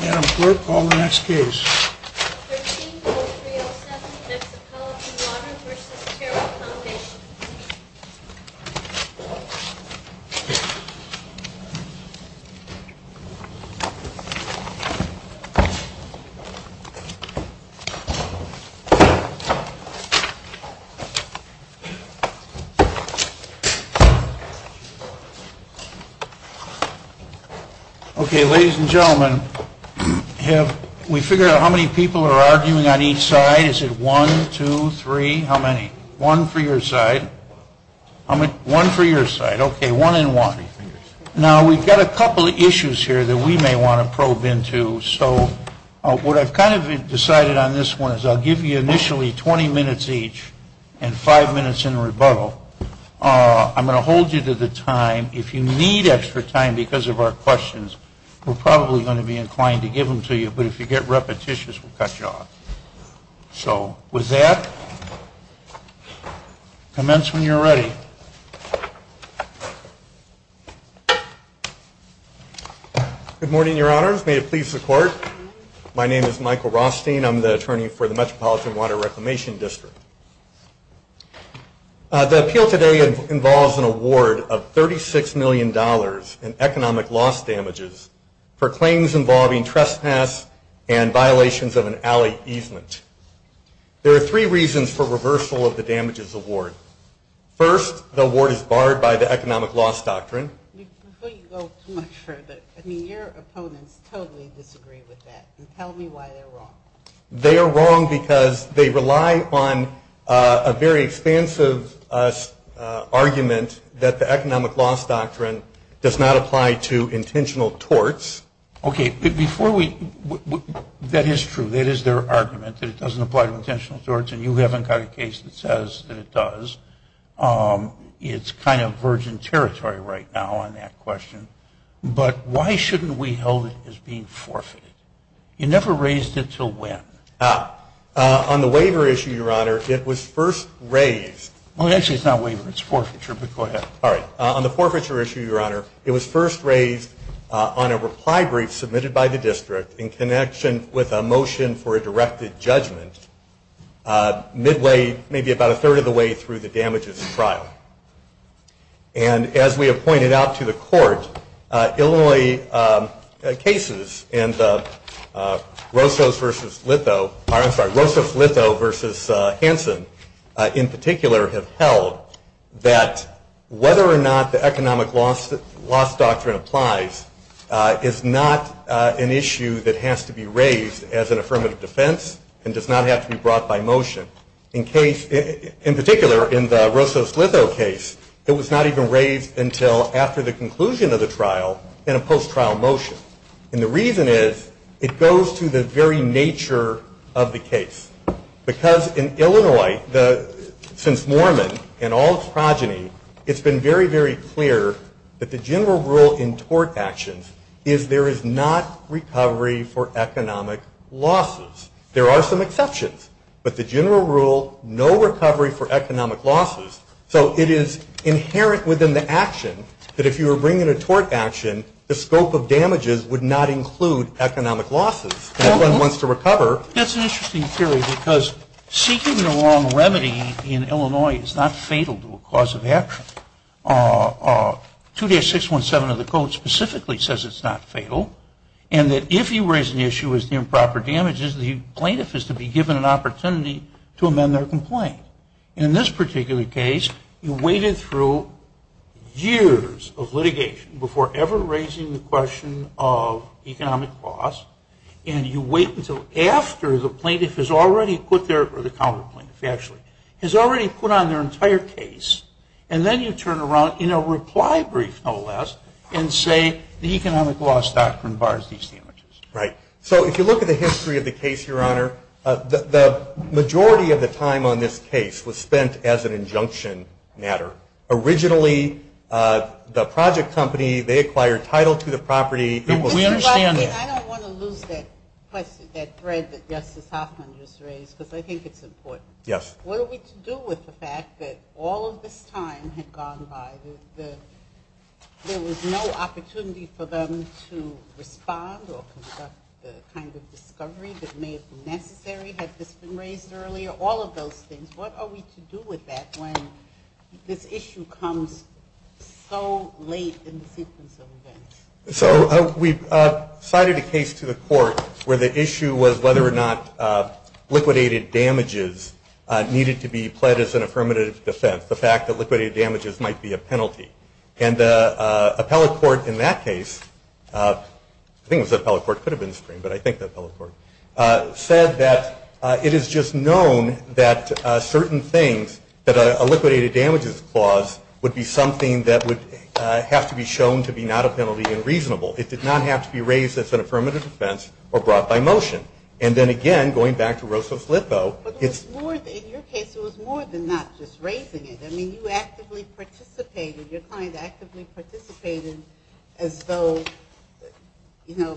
Madam Clerk, call the next case. Ok, ladies and gentlemen, have we figured out how many people are arguing on each side? Is it one, two, three? How many? One for your side. One for your side. Ok, one and one. Now we've got a couple of issues here that we may want to probe into. So what I've kind of decided on this one is I'll give you initially 20 minutes each and 5 minutes in rebuttal. I'm going to hold you to the time. If you need extra time because of our questions, we're probably going to be inclined to give them to you, but if you get repetitious, we'll cut you off. So with that, commence when you're ready. Good morning, Your Honor. May it please the Court. My name is Michael Rothstein. I'm the attorney for the Metropolitan Water Reclamation District. The appeal today involves an award of $36 million in economic loss damages for claims involving trespass and violations of an alley easement. There are three reasons for reversal of the damages award. First, the award is barred by the economic loss doctrine. Before you go too much further, your opponents totally disagree with that. Tell me why they're wrong. They are wrong because they rely on a very expansive argument that the economic loss doctrine does not apply to intentional torts. Okay, but before we – that is true. That is their argument that it doesn't apply to intentional torts, and you haven't got a case that says that it does. It's kind of virgin territory right now on that question. But why shouldn't we hold it as being forfeited? You never raised it till when? On the waiver issue, Your Honor, it was first raised – Well, actually, it's not waiver. It's forfeiture, but go ahead. All right. On the forfeiture issue, Your Honor, it was first raised on a reply brief submitted by the district in connection with a motion for a directed judgment midway – maybe about a third of the way through the damages trial. And as we have pointed out to the court, only cases in the Rosas-Lippo v. Hanson in particular have held that whether or not the economic loss doctrine applies is not an issue that has to be raised as an affirmative defense and does not have to be brought by motion. In particular, in the Rosas-Lippo case, it was not even raised until after the conclusion of the trial in a post-trial motion. And the reason is it goes through the very nature of the case. Because in Illinois, since Mormon and all its progeny, it's been very, very clear that the general rule in tort actions is there is not recovery for economic losses. There are some exceptions, but the general rule, no recovery for economic losses. So it is inherent within the action that if you were bringing a tort action, the scope of damages would not include economic losses. If one wants to recover – That's an interesting theory because seeking the wrong remedy in Illinois is not fatal to a cause of action. 2-617 of the code specifically says it's not fatal, and that if you raise an issue with improper damages, the plaintiff is to be given an opportunity to amend their complaint. In this particular case, you waited through years of litigation before ever raising the question of economic loss, and you wait until after the plaintiff has already put their – or the counter-plaintiff, actually – has already put on their entire case, and then you turn around in a reply brief, no less, and say the economic loss doctrine bars these damages. Right. So if you look at the history of the case, Your Honor, the majority of the time on this case was spent as an injunction matter. Originally, the project company, they acquired title to the property. We understand that. I don't want to lose that thread that Justice Hoffman just raised, but I think it's important. Yes. What are we to do with the fact that all of this time had gone by, that there was no opportunity for them to respond or conduct the kind of discovery that may have been necessary? Had this been raised earlier? All of those things. What are we to do with that when this issue comes so late in the case until then? So we've cited a case to the court where the issue was whether or not liquidated damages needed to be pledged as an affirmative dissent, the fact that liquidated damages might be a penalty. And the appellate court in that case – I think it was the appellate court, could have been the Supreme, but I think the appellate court – said that it is just known that certain things, that a liquidated damages clause would be something that would have to be shown to be not a penalty and reasonable. It did not have to be raised as an affirmative dissent or brought by motion. And then again, going back to Rosa's lipo – But in your case, it was more than that, just raising it. I mean, you actively participated. Your client actively participated as though, you know,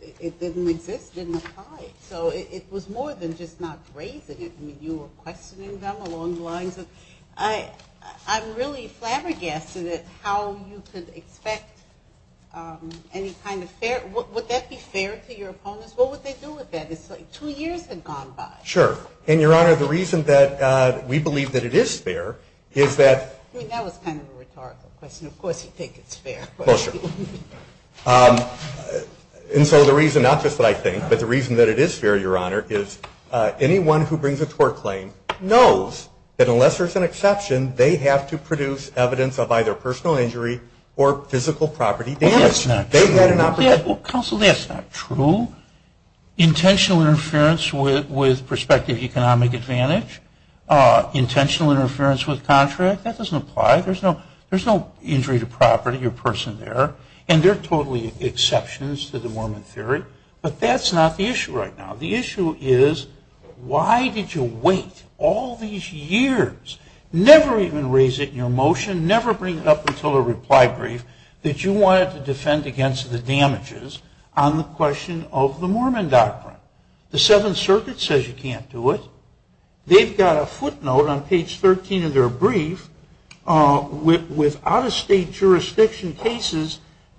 it didn't exist in the case. So it was more than just not raising it. I mean, you were questioning them along the lines of – I'm really flabbergasted at how you could expect any kind of fair – would that be fair to your opponents? What would they do with that? It's like two years had gone by. Sure. And, Your Honor, the reason that we believe that it is fair is that – I mean, that was kind of a rhetorical question. Of course you take it as fair. Of course, Your Honor. And so the reason, not just what I think, but the reason that it is fair, Your Honor, is anyone who brings a tort claim knows that unless there's an exception, they have to produce evidence of either personal injury or physical property damage. That's not true. Counsel, that's not true. Intentional interference with prospective economic advantage, intentional interference with contract, that doesn't apply. There's no injury to property or person there. And there are totally exceptions to the Mormon theory. But that's not the issue right now. The issue is why did you wait all these years, never even raise it in a motion, never bring it up until a reply brief, that you wanted to defend against the damages on the question of the Mormon doctrine? The Seventh Circuit says you can't do it. They've got a footnote on page 13 of their brief with out-of-state jurisdiction cases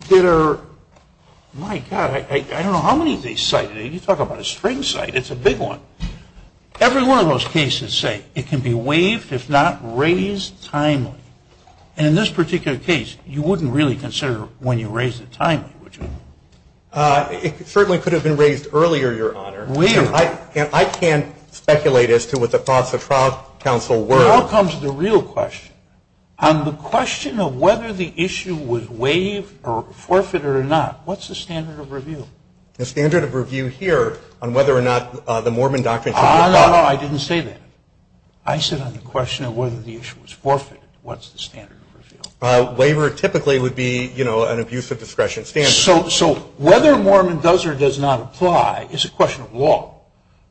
that are, my God, I don't know how many of these cited. You talk about a string cite, it's a big one. Every one of those cases say it can be waived if not raised timely. And in this particular case, you wouldn't really consider when you raise the time, would you? It certainly could have been raised earlier, Your Honor. Really? I can't speculate as to what the thoughts of trial counsel were. Now comes the real question. On the question of whether the issue was waived or forfeited or not, what's the standard of review? The standard of review here on whether or not the Mormon doctrine could be adopted. No, no, no, I didn't say that. I said on the question of whether the issue was forfeited, what's the standard of review? Waiver typically would be, you know, an abuse of discretion. So whether Mormon does or does not apply is a question of law.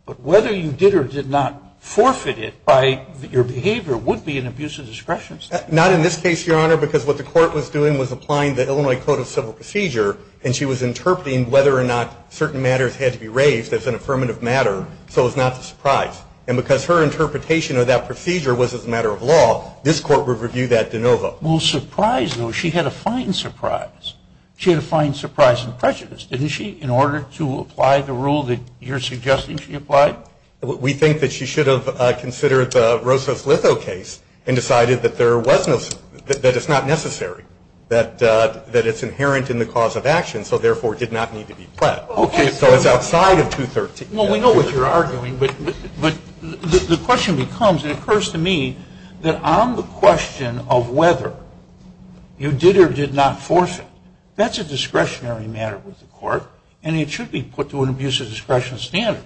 But whether you did or did not forfeit it by your behavior would be an abuse of discretion. Not in this case, Your Honor, because what the court was doing was applying the Illinois Code of Civil Procedure, and she was interpreting whether or not certain matters had to be raised as an affirmative matter, so it's not a surprise. And because her interpretation of that procedure was as a matter of law, this court would review that de novo. Well, surprise, though, she had a fine surprise. She had a fine surprise in prejudice, didn't she, in order to apply the rule that you're suggesting she applied? We think that she should have considered Rosa's Litho case and decided that it's not necessary, that it's inherent in the cause of action, so therefore it did not need to be fled. Okay. So it's outside of 213. Well, we know what you're arguing, but the question becomes, and it occurs to me, that on the question of whether you did or did not forfeit, that's a discretionary matter with the court, and it should be put to an abuse of discretion standard.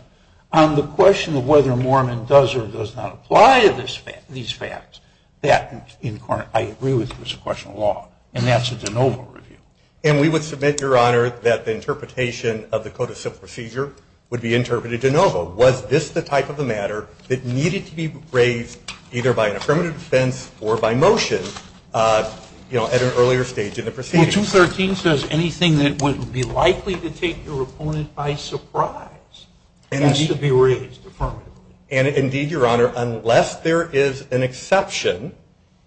On the question of whether Mormon does or does not apply these facts, that, in part, I agree with as a question of law, and that's a de novo review. And we would submit, Your Honor, that the interpretation of the Code of Civil Procedure would be interpreted de novo. Was this the type of a matter that needed to be raised either by an affirmative defense or by motion, you know, at an earlier stage in the proceedings? Well, 213 says anything that would be likely to take your opponent by surprise needs to be raised. And, indeed, Your Honor, unless there is an exception,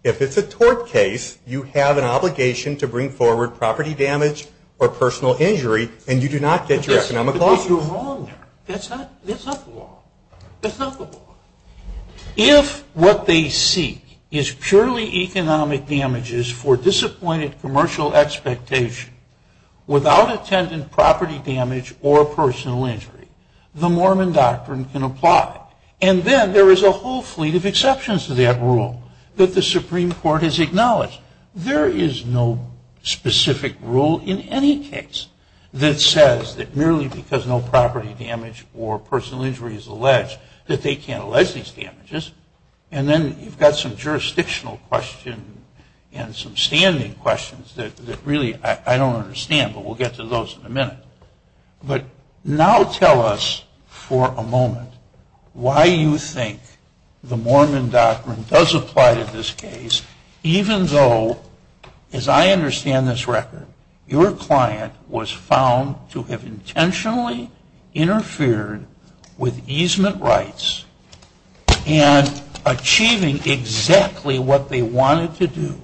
if it's a tort case, you have an obligation to bring forward property damage or personal injury, and you do not take your economic loss. But, Your Honor, that's not the law. That's not the law. If what they seek is purely economic damages for disappointed commercial expectation without attendant property damage or personal injury, the Mormon doctrine can apply. And then there is a whole fleet of exceptions to that rule that the Supreme Court has acknowledged. There is no specific rule in any case that says that merely because no property damage or personal injury is alleged that they can't allege these damages. And then you've got some jurisdictional questions and some standing questions that really I don't understand, but we'll get to those in a minute. But now tell us for a moment why you think the Mormon doctrine does apply to this case even though, as I understand this record, your client was found to have intentionally interfered with easement rights and achieving exactly what they wanted to do,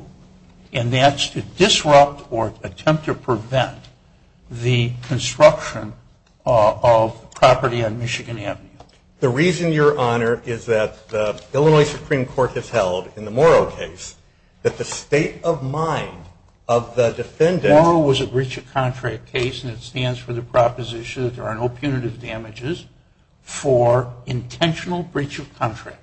and that's to disrupt or attempt to prevent the construction of property on Michigan Avenue. The reason, Your Honor, is that the Illinois Supreme Court has held in the Morrow case that the state of mind of the defendant... Morrow was a breach of contract case, and it stands for the proposition that there are no punitive damages for intentional breach of contract,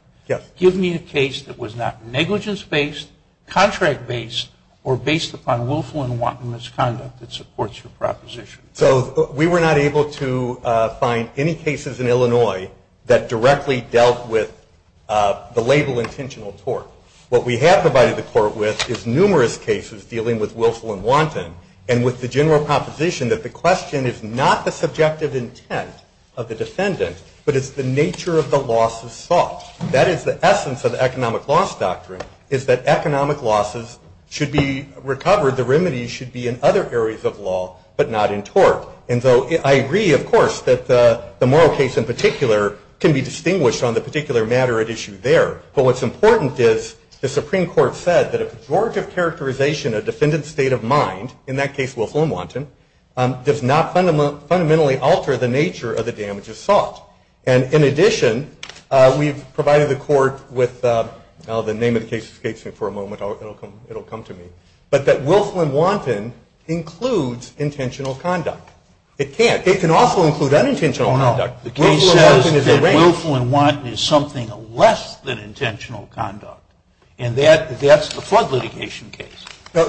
given a case that was not negligence-based, contract-based, or based upon willful and wanton misconduct that supports your proposition. So we were not able to find any cases in Illinois that directly dealt with the label intentional tort. What we have provided the court with is numerous cases dealing with willful and wanton, and with the general proposition that the question is not the subjective intent of the defendant, but it's the nature of the loss itself. That is the essence of the economic loss doctrine, is that economic losses should be recovered, the remedy should be in other areas of law, but not in tort. And so I agree, of course, that the Morrow case in particular can be distinguished on the particular matter at issue there. But what's important is the Supreme Court said that a pejorative characterization of defendant's state of mind, in that case willful and wanton, does not fundamentally alter the nature of the damage assault. And in addition, we've provided the court with... Well, the name of the case escapes me for a moment. It'll come to me. But that willful and wanton includes intentional conduct. It can't. It can also include unintentional conduct. The case says that willful and wanton is something less than intentional conduct, and that's the flood litigation case.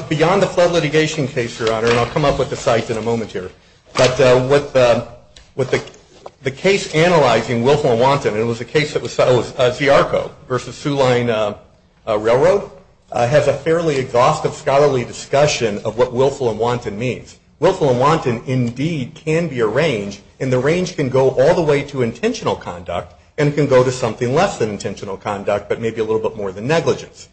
Beyond the flood litigation case, Your Honor, and I'll come up with the site in a moment here, but with the case analyzing willful and wanton, and it was a case that was settled with DRCO versus Sioux Line Railroad, has a fairly exhaustive scholarly discussion of what willful and wanton means. Willful and wanton, indeed, can be a range, and the range can go all the way to intentional conduct and it can go to something less than intentional conduct, but maybe a little bit more than negligence.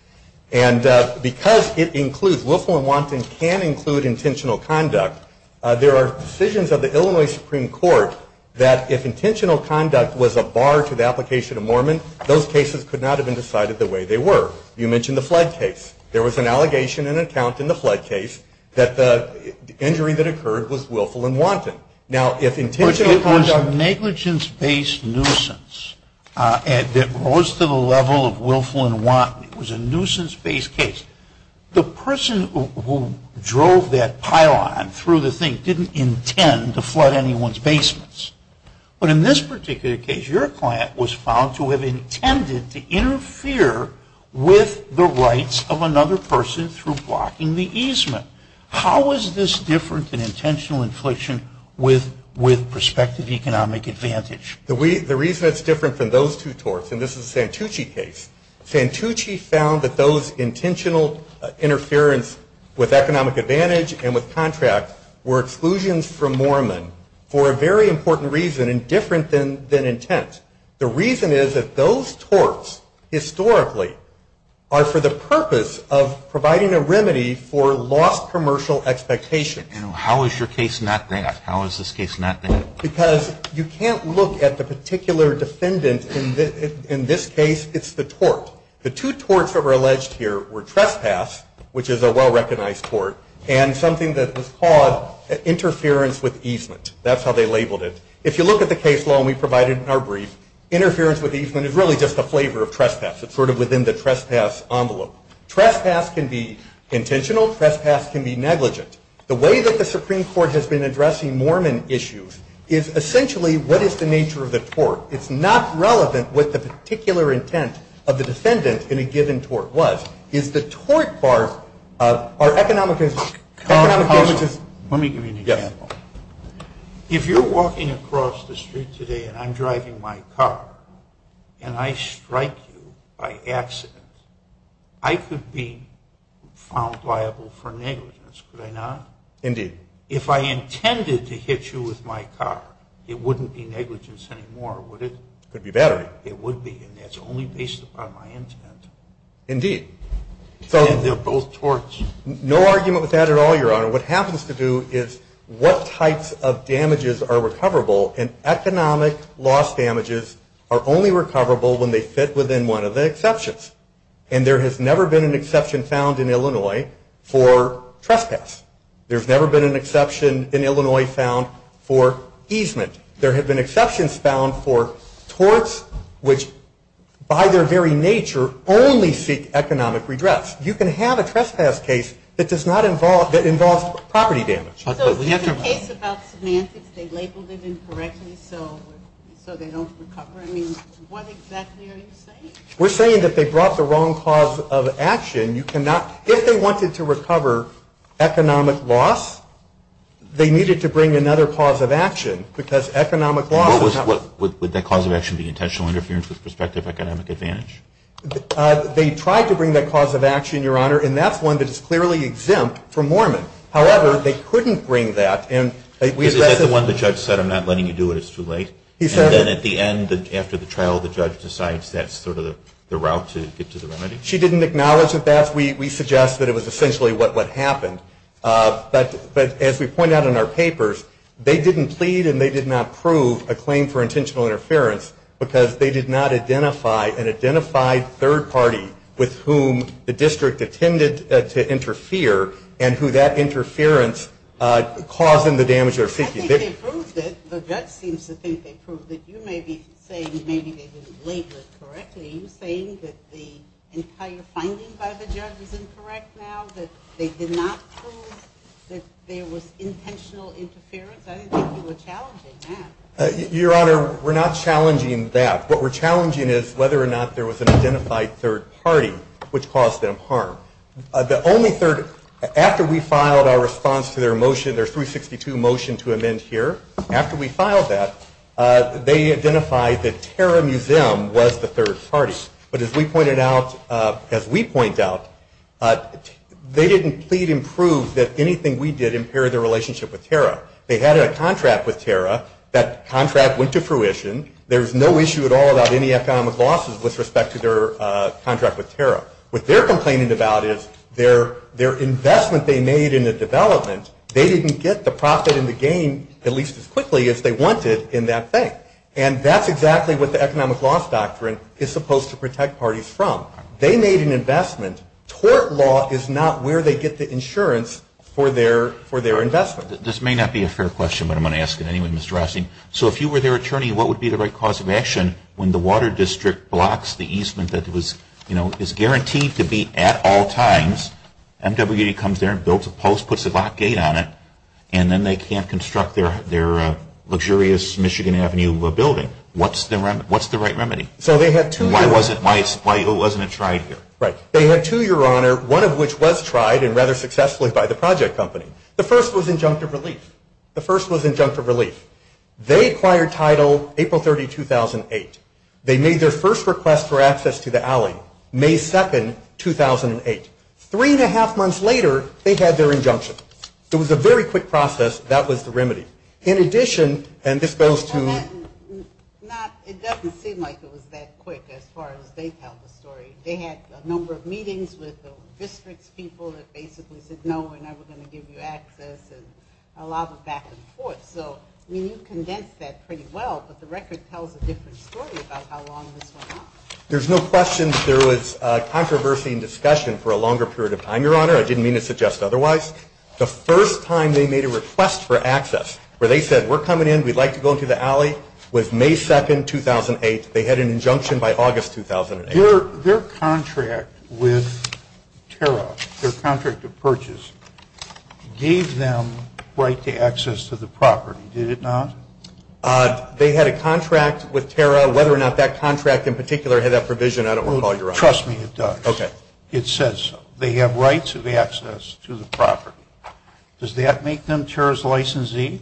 And because it includes willful and wantons can include intentional conduct, there are decisions of the Illinois Supreme Court that if intentional conduct was a bar to the application of Mormon, those cases could not have been decided the way they were. You mentioned the flood case. There was an allegation and an account in the flood case that the injury that occurred was willful and wanton. Now, if intentional conduct was a negligence-based nuisance that goes to the level of willful and wanton, it was a nuisance-based case, the person who drove that pylon through the thing didn't intend to flood anyone's basements. But in this particular case, your client was found to have intended to interfere with the rights of another person through blocking the easement. How is this different than intentional infliction with prospective economic advantage? The reason it's different than those two torts, and this is a Santucci case, Santucci found that those intentional interference with economic advantage and with contract were exclusions from Mormon for a very important reason and different than intent. The reason is that those torts historically are for the purpose of providing a remedy for lost commercial expectations. How is your case not that? How is this case not that? Because you can't look at the particular defendant in this case. It's the tort. The two torts that were alleged here were trespass, which is a well-recognized tort, and something that was called interference with easement. That's how they labeled it. If you look at the case law, and we provided it in our brief, interference with easement is really just a flavor of trespass. It's sort of within the trespass envelope. Trespass can be intentional. Trespass can be negligent. The way that the Supreme Court has been addressing Mormon issues is essentially, what is the nature of the tort? It's not relevant what the particular intent of the defendant in a given tort was. Is the tort part economic advantage? Let me give you an example. If you're walking across the street today and I'm driving my car and I strike you by accident, I could be found liable for negligence. Could I not? Indeed. If I intended to hit you with my car, it wouldn't be negligence anymore, would it? It could be battery. It would be, and that's only based upon my intent. Indeed. So they're both torts. No argument with that at all, Your Honor. What happens to do is what types of damages are recoverable, and economic loss damages are only recoverable when they fit within one of the exceptions. And there has never been an exception found in Illinois for trespass. There's never been an exception in Illinois found for easement. There have been exceptions found for torts which, by their very nature, only seek economic redress. You can have a trespass case that does not involve property damage. So the case about semantics, they labeled it incorrectly so they don't recover. I mean, what exactly are you saying? We're saying that they brought the wrong cause of action. If they wanted to recover economic loss, they needed to bring another cause of action, because economic loss would not recover. Would that cause of action be intentional interference with prospective economic advantage? They tried to bring that cause of action, Your Honor, and that's one that's clearly exempt for Mormons. However, they couldn't bring that. Isn't that the one the judge said, I'm not letting you do it, it's too late? And then at the end, after the trial, the judge decides that's sort of the route to get to the remedy? She didn't acknowledge that. We suggest that it was essentially what happened. But as we point out in our papers, they didn't plead and they did not prove a claim for intentional interference because they did not identify an identified third party with whom the district intended to interfere and who that interference caused them the damage they were seeking. They proved it. The judge seems to think they proved it. You may be saying maybe they didn't label it correctly. Are you saying that the entire finding by the judge is incorrect now, that they did not prove that there was intentional interference? I don't think you were challenging that. Your Honor, we're not challenging that. What we're challenging is whether or not there was an identified third party which caused them harm. The only third, after we filed our response to their motion, their 362 motion to amend here, after we filed that, they identified that Terra Museum was the third party. But as we pointed out, they didn't plead and prove that anything we did impaired their relationship with Terra. They had a contract with Terra. That contract went to fruition. There was no issue at all about any FM of losses with respect to their contract with Terra. What they're complaining about is their investment they made in the development, they didn't get the profit and the gain at least as quickly as they wanted in that bank. And that's exactly what the economic loss doctrine is supposed to protect parties from. They made an investment. Tort law is not where they get the insurance for their investment. This may not be a fair question, but I'm going to ask it anyway, Mr. Rossi. So if you were their attorney, what would be the right cause of action when the water district blocks the easement that is guaranteed to be at all times, MWD comes there and builds a post, puts a lock gate on it, and then they can't construct their luxurious Michigan Avenue building? What's the right remedy? Why wasn't it tried here? They had two, Your Honor, one of which was tried and rather successfully by the project company. The first was injunctive release. The first was injunctive release. They acquired title April 30, 2008. They made their first request for access to the alley, May 2, 2008. Three-and-a-half months later, they had their injunction. It was a very quick process. That was the remedy. In addition, and this goes to ñ It doesn't seem like it was that quick as far as the bank has to worry. They had a number of meetings with the district people that basically said, I was going to give you access and allow the back and forth. So you condensed that pretty well, but the record tells a different story about how long this went on. There's no question that there was controversy and discussion for a longer period of time, Your Honor. I didn't mean to suggest otherwise. The first time they made a request for access where they said, We're coming in, we'd like to go to the alley, was May 2, 2008. They had an injunction by August 2008. Their contract with TARA, their contract of purchase, gave them right to access to the property, did it not? They had a contract with TARA. Whether or not that contract in particular had that provision, I don't recall, Your Honor. Trust me, it does. Okay. It says they have rights of access to the property. Does that make them TARA's licensee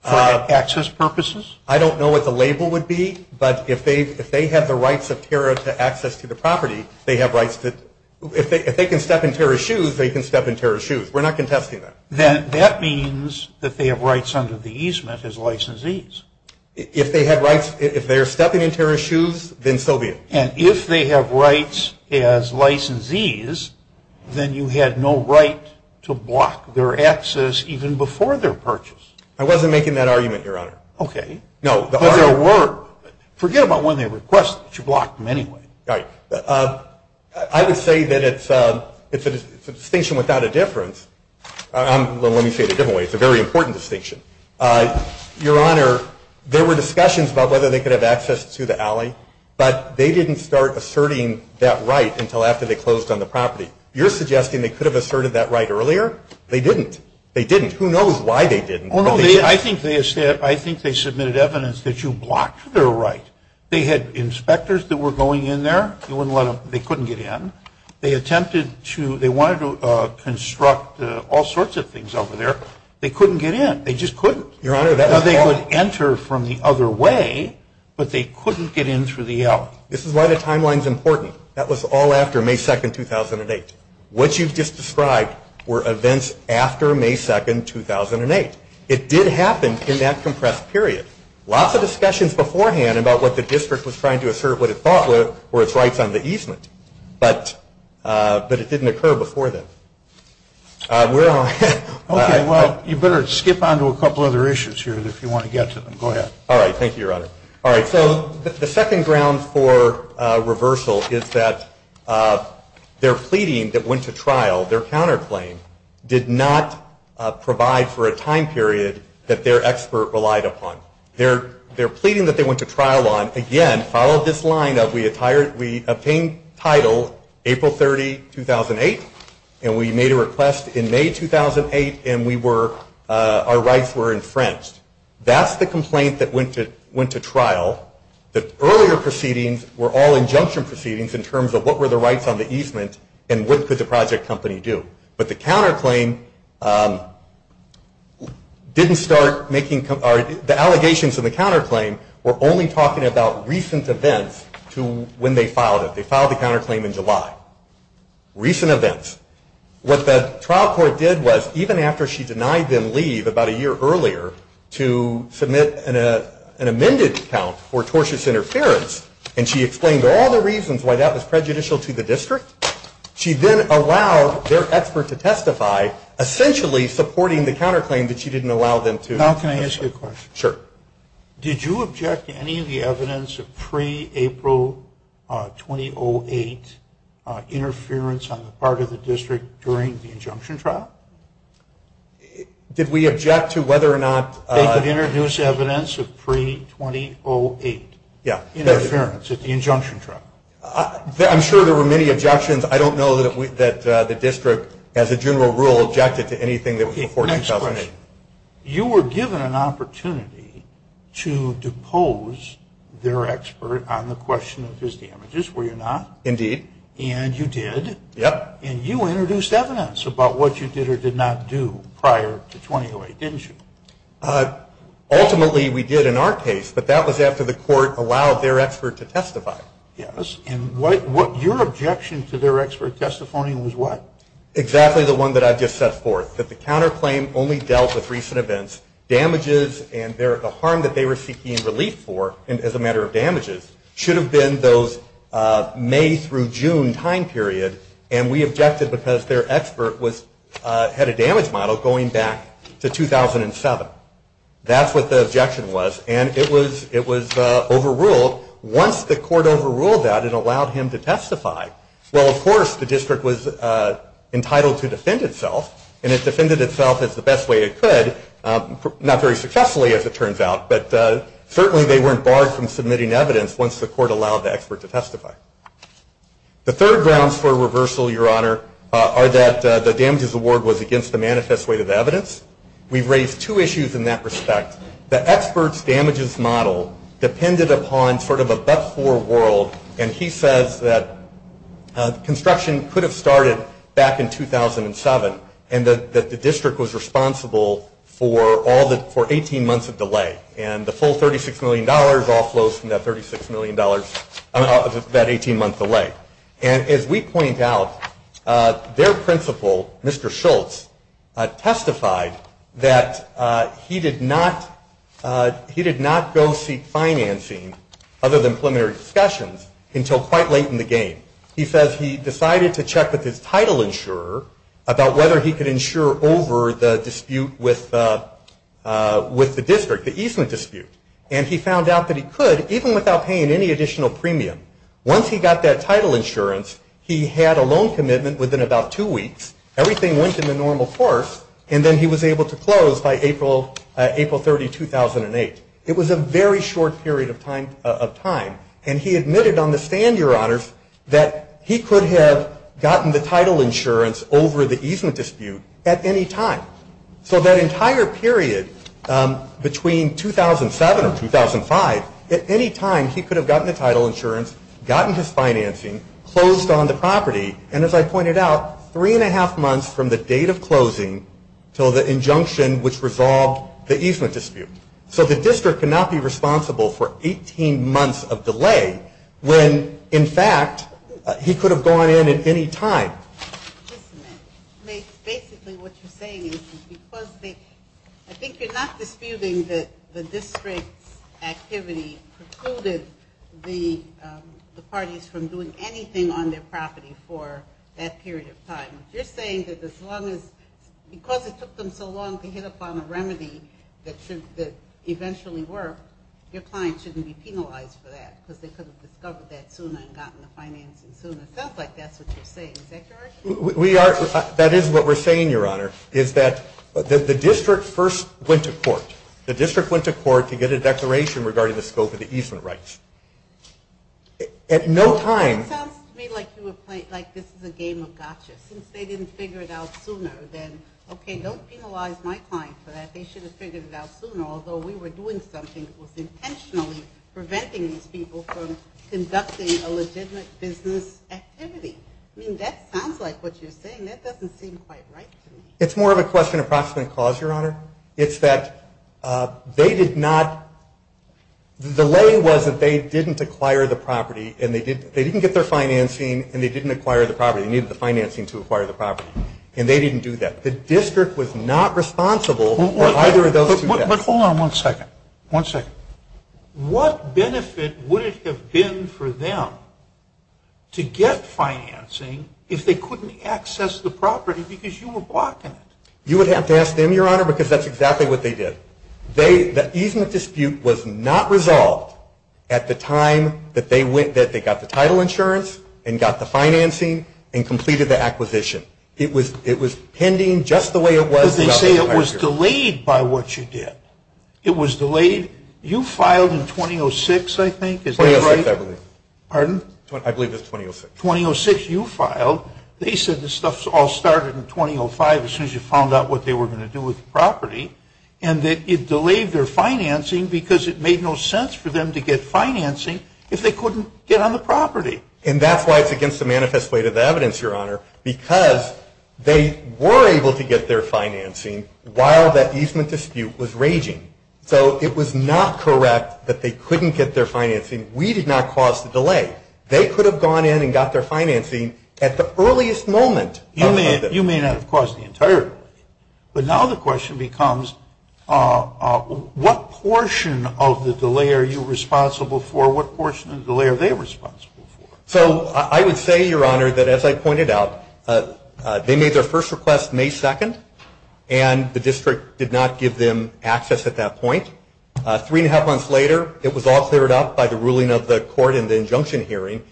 for access purposes? I don't know what the label would be, but if they have the rights of TARA's access to the property, if they can step in TARA's shoes, they can step in TARA's shoes. We're not contesting that. Then that means that they have rights under the easement as licensees. If they're stepping in TARA's shoes, then so be it. And if they have rights as licensees, then you had no right to block their access even before their purchase. I wasn't making that argument, Your Honor. Okay. Forget about when they request to block them anyway. Right. I would say that it's a distinction without a difference. Well, let me say it a different way. It's a very important distinction. Your Honor, there were discussions about whether they could have access to the alley, but they didn't start asserting that right until after they closed on the property. You're suggesting they could have asserted that right earlier? They didn't. They didn't. Who knows why they didn't? I think they submitted evidence that you blocked their right. They had inspectors that were going in there. They couldn't get in. They wanted to construct all sorts of things over there. They couldn't get in. They just couldn't. They could enter from the other way, but they couldn't get in through the alley. This is why the timeline is important. That was all after May 2, 2008. What you just described were events after May 2, 2008. It did happen in that compressed period. Lots of discussions beforehand about what the district was trying to assert what it thought were were its rights under the easement, but it didn't occur before then. Well, you better skip on to a couple other issues here if you want to get to them. All right. Thank you, Your Honor. All right. So the second ground for reversal is that their pleading that went to trial, their counterclaim, did not provide for a time period that their expert relied upon. Their pleading that they went to trial on, again, followed this line of we obtained title April 30, 2008, and we made a request in May 2008, and our rights were infringed. That's the complaint that went to trial. The earlier proceedings were all injunction proceedings in terms of what were the rights on the easement and what could the project company do. But the allegations in the counterclaim were only talking about recent events when they filed it. They filed the counterclaim in July. Recent events. What the trial court did was, even after she denied them leave about a year earlier to submit an amended account for tortious interference, and she explained all the reasons why that was prejudicial to the district, she then allowed their expert to testify, essentially supporting the counterclaim that she didn't allow them to. Now can I ask you a question? Sure. Did you object to any of the evidence of pre-April 2008 interference on the part of the district during the injunction trial? Did we object to whether or not? They could introduce evidence of pre-2008 interference at the injunction trial. I'm sure there were many objections. I don't know that the district, as a general rule, objected to anything that was before 2008. Okay. You were given an opportunity to depose their expert on the question of his damages, were you not? Indeed. And you did. Yep. And you introduced evidence about what you did or did not do prior to 2008, didn't you? Ultimately we did in our case, but that was after the court allowed their expert to testify. Yes. And your objection to their expert testifying was what? Exactly the one that I just set forth, that the counterclaim only dealt with recent events. Damages and the harm that they were seeking relief for, as a matter of damages, should have been those May through June time period, and we objected because their expert had a damage model going back to 2007. That's what the objection was, and it was overruled. Once the court overruled that, it allowed him to testify. Well, of course, the district was entitled to defend itself, and it defended itself as the best way it could, not very successfully as it turns out, but certainly they weren't barred from submitting evidence once the court allowed the expert to testify. The third grounds for reversal, Your Honor, are that the damages award was against the manifest weight of evidence. We've raised two issues in that respect. The expert's damages model depended upon sort of a but-for world, and he said that construction could have started back in 2007 and that the district was responsible for 18 months of delay, and the full $36 million all flows from that $36 million of that 18 months away. And as we point out, their principal, Mr. Schultz, testified that he did not go seek financing other than preliminary discussions until quite late in the game. He says he decided to check with his title insurer about whether he could insure over the dispute with the district, the easement dispute, and he found out that he could even without paying any additional premium. Once he got that title insurance, he had a loan commitment within about two weeks. Everything went into normal course, and then he was able to close by April 30, 2008. It was a very short period of time, and he admitted on the stand, Your Honors, that he could have gotten the title insurance over the easement dispute at any time. So that entire period between 2007 and 2005, at any time he could have gotten the title insurance, gotten his financing, closed on the property, and as I pointed out, three and a half months from the date of closing until the injunction which resolved the easement dispute. So the district could not be responsible for 18 months of delay when, in fact, he could have gone in at any time. Basically what you're saying is, I think you're not disputing that the district activity precluded the parties from doing anything on their property for that period of time. You're saying that because it took them so long to hit upon a remedy that eventually worked, your client shouldn't be penalized for that because they could have discovered that sooner and gotten the financing sooner. It sounds like that's what you're saying. We are, that is what we're saying, Your Honor, is that the district first went to court. The district went to court to get a declaration regarding the scope of the easement rights. At no time. It sounds to me like this is a game of gotcha. Since they didn't figure it out sooner, then okay, don't penalize my client for that. They should have figured it out sooner, although we were doing something that was intentionally preventing people from conducting a legitimate business activity. I mean, that sounds like what you're saying. That doesn't seem quite right to me. It's more of a question of proximate cause, Your Honor. It's that they did not, the lay was that they didn't acquire the property, and they didn't get their financing, and they didn't acquire the property. They needed the financing to acquire the property, and they didn't do that. The district was not responsible for either of those things. But hold on one second. What benefit would it have been for them to get financing if they couldn't access the property because you were blocking it? You would have to ask them, Your Honor, because that's exactly what they did. The easement dispute was not resolved at the time that they got the title insurance and got the financing and completed the acquisition. It was pending just the way it was. But they say it was delayed by what you did. It was delayed. You filed in 2006, I think, is that right? 2006, I believe. Pardon? I believe it's 2006. 2006 you filed. They said this stuff all started in 2005 as soon as you found out what they were going to do with the property, and that it delayed their financing because it made no sense for them to get financing if they couldn't get on the property. And that's why it's against the manifest way to the evidence, Your Honor, because they were able to get their financing while that easement dispute was raging. So it was not correct that they couldn't get their financing. We did not cause the delay. They could have gone in and got their financing at the earliest moment. You may not have caused the entire delay. But now the question becomes what portion of the delay are you responsible for? What portion of the delay are they responsible for? So I would say, Your Honor, that as I pointed out, they made their first request May 2nd, and the district did not give them access at that point. Three-and-a-half months later, it was all cleared up by the ruling of the court and the injunction hearing.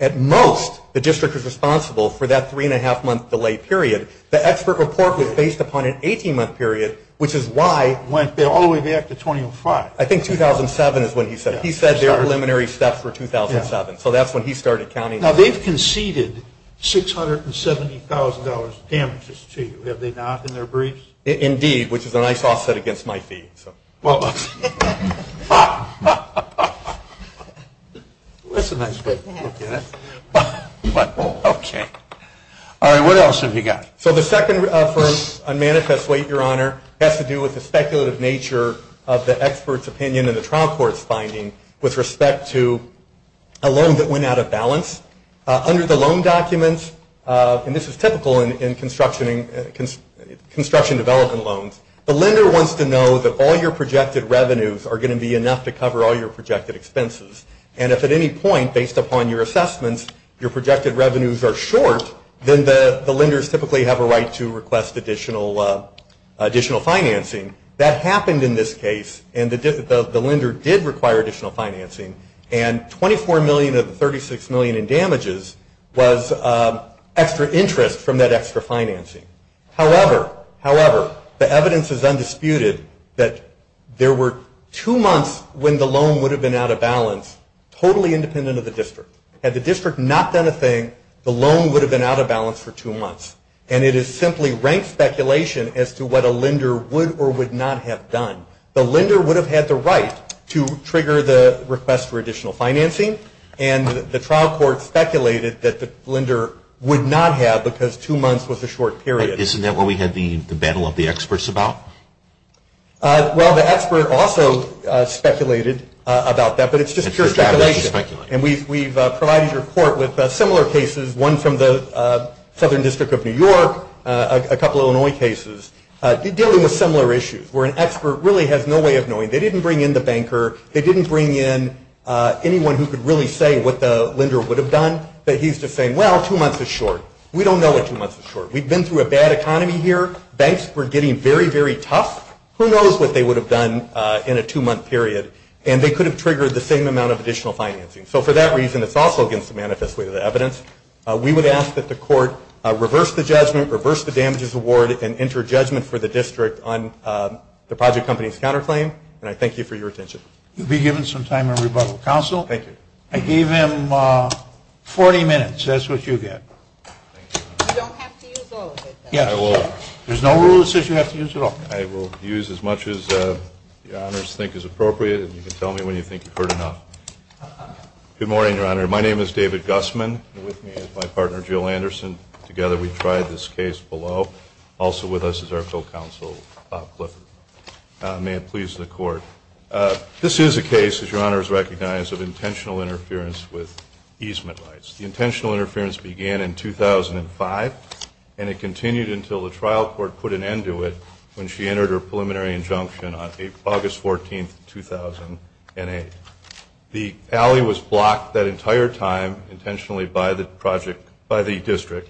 At most, the district was responsible for that three-and-a-half-month delay period. The expert report was based upon an 18-month period, which is why they're only there until 2005. I think 2007 is when he said it. He said the preliminary stuff for 2007. So that's when he started counting. Now, they've conceded $670,000 damages to you, have they not, in their briefs? Indeed, which is a nice offset against my fee. Well, that's a nice way to put it. Okay. All right. What else have you got? So the second first, unmanifest weight, Your Honor, has to do with the speculative nature of the expert's opinion in the Trump Court's finding with respect to a loan that went out of balance. Under the loan documents, and this is typical in construction development loans, the lender wants to know that all your projected revenues are going to be enough to cover all your projected expenses. And if at any point, based upon your assessments, your projected revenues are short, then the lenders typically have a right to request additional financing. That happened in this case, and the lender did require additional financing, and $24 million of $36 million in damages was extra interest from that extra financing. However, the evidence is undisputed that there were two months when the loan would have been out of balance, totally independent of the district. Had the district not done a thing, the loan would have been out of balance for two months. And it is simply rank speculation as to what a lender would or would not have done. The lender would have had the right to trigger the request for additional financing, and the Trump Court speculated that the lender would not have because two months was a short period. Isn't that what we had the battle of the experts about? Well, the expert also speculated about that, but it's just pure speculation. Speculation. And we've provided your court with similar cases, one from the Southern District of New York, a couple Illinois cases dealing with similar issues where an expert really has no way of knowing. They didn't bring in the banker. They didn't bring in anyone who could really say what the lender would have done. He's just saying, well, two months is short. We don't know what two months is short. We've been through a bad economy here. Banks were getting very, very tough. Who knows what they would have done in a two-month period, and they could have triggered the same amount of additional financing. So for that reason, it's also against the manifest way of the evidence. We would ask that the court reverse the judgment, reverse the damages award, and enter judgment for the district on the deposit company's counterclaim, and I thank you for your attention. You'll be given some time to rebuttal. Counsel? Thank you. I gave him 40 minutes. That's what you get. You don't have to use all of it. Yes, I will. There's no rule that says you have to use it all. I will use as much as the honors think is appropriate, and you can tell me when you think you've heard enough. Good morning, Your Honor. My name is David Gussman. With me is my partner, Jill Anderson. Together we tried this case below. Also with us is our full counsel, Bob Clifford. May it please the court. This is a case, as Your Honor has recognized, of intentional interference with easement rights. The intentional interference began in 2005, and it continued until the trial court put an end to it when she entered her preliminary injunction on August 14, 2008. The alley was blocked that entire time intentionally by the district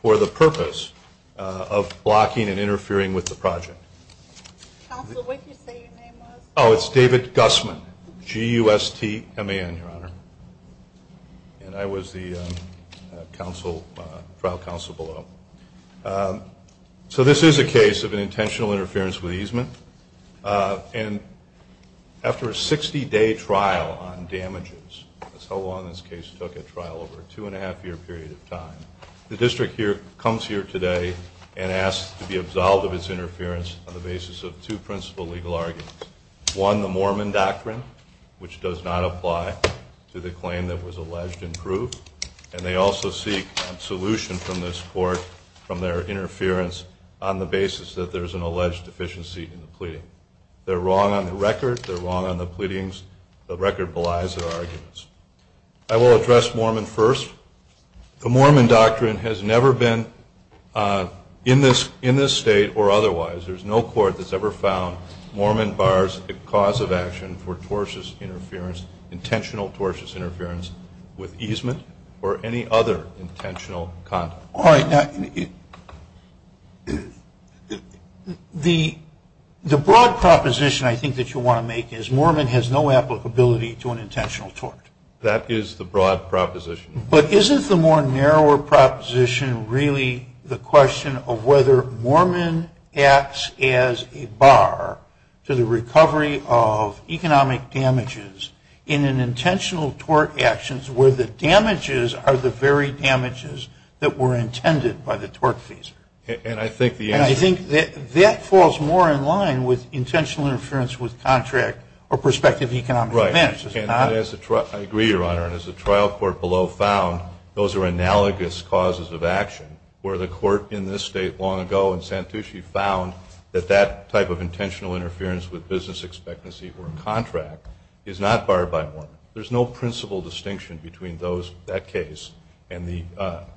for the purpose of blocking and interfering with the project. Counsel, what did you say your name was? Oh, it's David Gussman, G-U-S-T-M-A-N, Your Honor. And I was the trial counsel below. So this is a case of an intentional interference with easement. And after a 60-day trial on damages, that's how long this case took at trial, over a two-and-a-half-year period of time, the district comes here today and asks to be absolved of its interference on the basis of two principal legal arguments. One, the Mormon doctrine, which does not apply to the claim that was alleged and proved. And they also seek a solution from this court from their interference on the basis that there's an alleged deficiency in the pleading. They're wrong on the record. They're wrong on the pleadings. The record belies their arguments. I will address Mormon first. The Mormon doctrine has never been in this state or otherwise. There's no court that's ever found Mormon bars the cause of action for tortuous interference, intentional tortuous interference, with easement or any other intentional conduct. All right. The broad proposition I think that you want to make is Mormon has no applicability to an intentional tort. That is the broad proposition. But isn't the more narrower proposition really the question of whether Mormon acts as a bar to the recovery of economic damages in an intentional tort actions where the damages are the very damages that were intended by the tort fees? And I think that falls more in line with intentional interference with contract or prospective economic events. Right. And I agree, Your Honor. And as the trial court below found, those are analogous causes of action where the court in this state long ago in Santucci found that that type of intentional interference with business expectancy or contract is not barred by Mormon. There's no principle distinction between that case and the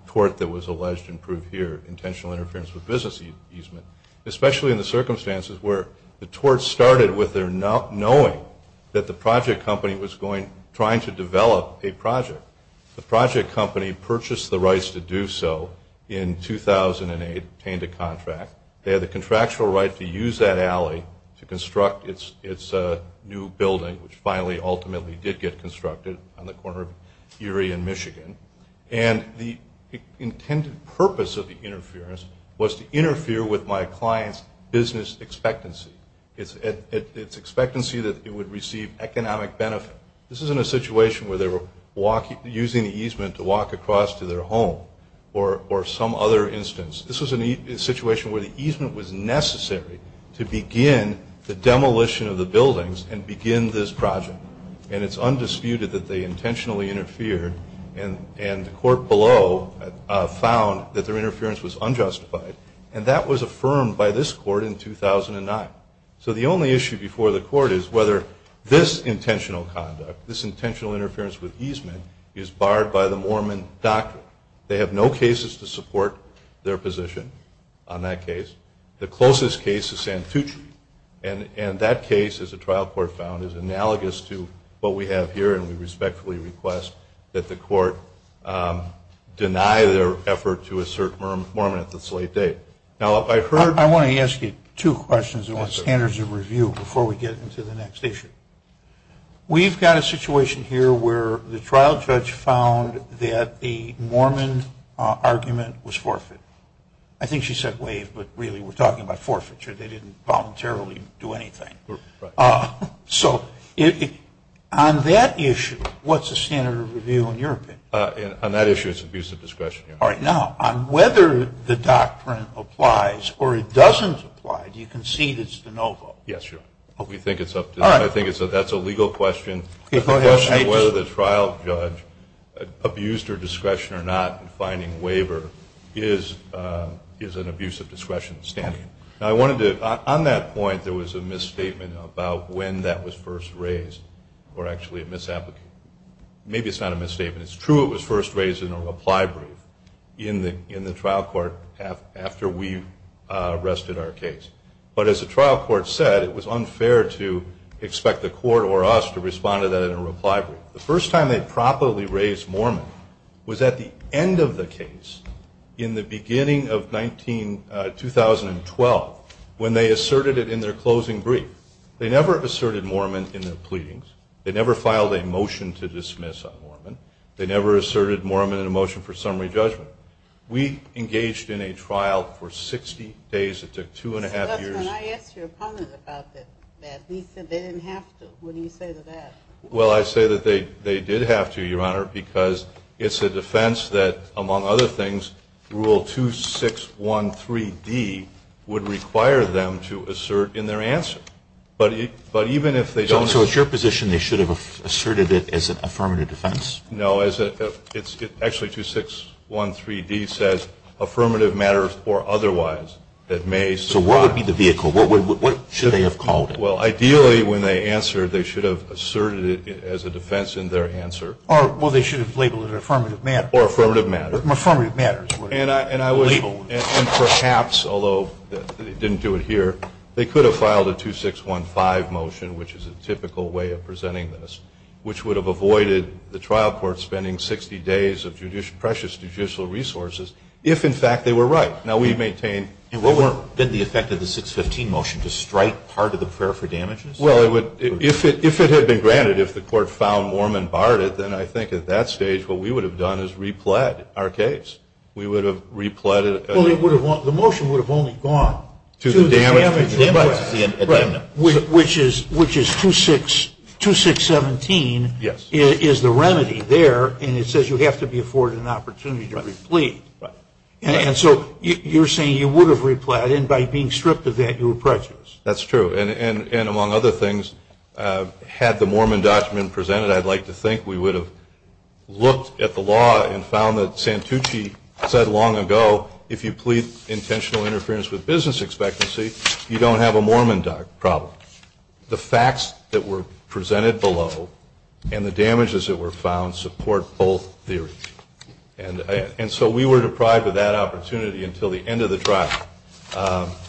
tort that was alleged and proved here, intentional interference with business easement, especially in the circumstances where the tort started with their knowing that the project company was trying to develop a project. The project company purchased the rights to do so in 2008, obtained a contract. They had the contractual right to use that alley to construct its new building, which finally ultimately did get constructed on the corner of Erie and Michigan. And the intended purpose of the interference was to interfere with my client's business expectancy, its expectancy that it would receive economic benefit. This isn't a situation where they were using the easement to walk across to their home or some other instance. This was a situation where the easement was necessary to begin the demolition of the buildings and begin this project. And it's undisputed that they intentionally interfered, and the court below found that their interference was unjustified. And that was affirmed by this court in 2009. So the only issue before the court is whether this intentional conduct, this intentional interference with easement, is barred by the Mormon doctrine. They have no cases to support their position on that case. The closest case is Santucci, and that case, as the trial court found, is analogous to what we have here, and we respectfully request that the court deny their effort to assert Mormon at this late date. I want to ask you two questions about standards of review before we get into the next issue. We've got a situation here where the trial judge found that the Mormon argument was forfeited. I think she said waived, but really we're talking about forfeiture. They didn't voluntarily do anything. So on that issue, what's the standard of review in your opinion? On that issue, it's abuse of discretion. All right. Now, on whether the doctrine applies or it doesn't apply, do you concede it's de novo? Yes, sir. I think that's a legal question. The question of whether the trial judge abused her discretion or not in finding waiver is an abuse of discretion standard. On that point, there was a misstatement about when that was first raised or actually a misapplication. Maybe it's not a misstatement. It's true it was first raised in a reply brief in the trial court after we rested our case. But as the trial court said, it was unfair to expect the court or us to respond to that in a reply brief. The first time they properly raised Mormon was at the end of the case in the beginning of 2012 when they asserted it in their closing brief. They never asserted Mormon in their pleadings. They never filed a motion to dismiss on Mormon. They never asserted Mormon in a motion for summary judgment. We engaged in a trial for 60 days. It took two and a half years. When I asked your opponent about this, he said they didn't have to. What do you say to that? Well, I say that they did have to, Your Honor, because it's a defense that, among other things, Rule 2613D would require them to assert in their answer. So it's your position they should have asserted it as an affirmative defense? No. Actually, 2613D says affirmative matters or otherwise. So what would be the vehicle? What should they have called it? Well, ideally, when they answer, they should have asserted it as a defense in their answer. Well, they should have labeled it affirmative matters. Or affirmative matters. Affirmative matters. And perhaps, although they didn't do it here, they could have filed a 2615 motion, which is a typical way of presenting this, which would have avoided the trial court spending 60 days of precious judicial resources if, in fact, they were right. Now, we've maintained— Didn't the effect of the 615 motion just strike part of the prayer for damages? Well, if it had been granted, if the court found Mormon barred it, then I think at that stage what we would have done is repled our case. We would have repled— Well, the motion would have only gone to the damages, which is 2617 is the remedy there, and it says you have to be afforded an opportunity to replete. And so you're saying you would have replied, and by being stripped of that, you were prejudiced. That's true. And among other things, had the Mormon document been presented, I'd like to think we would have looked at the law and found that Santucci said long ago, if you plead intentional interference with business expectancy, you don't have a Mormon problem. The facts that were presented below and the damages that were found support both theories. And so we were deprived of that opportunity until the end of the trial,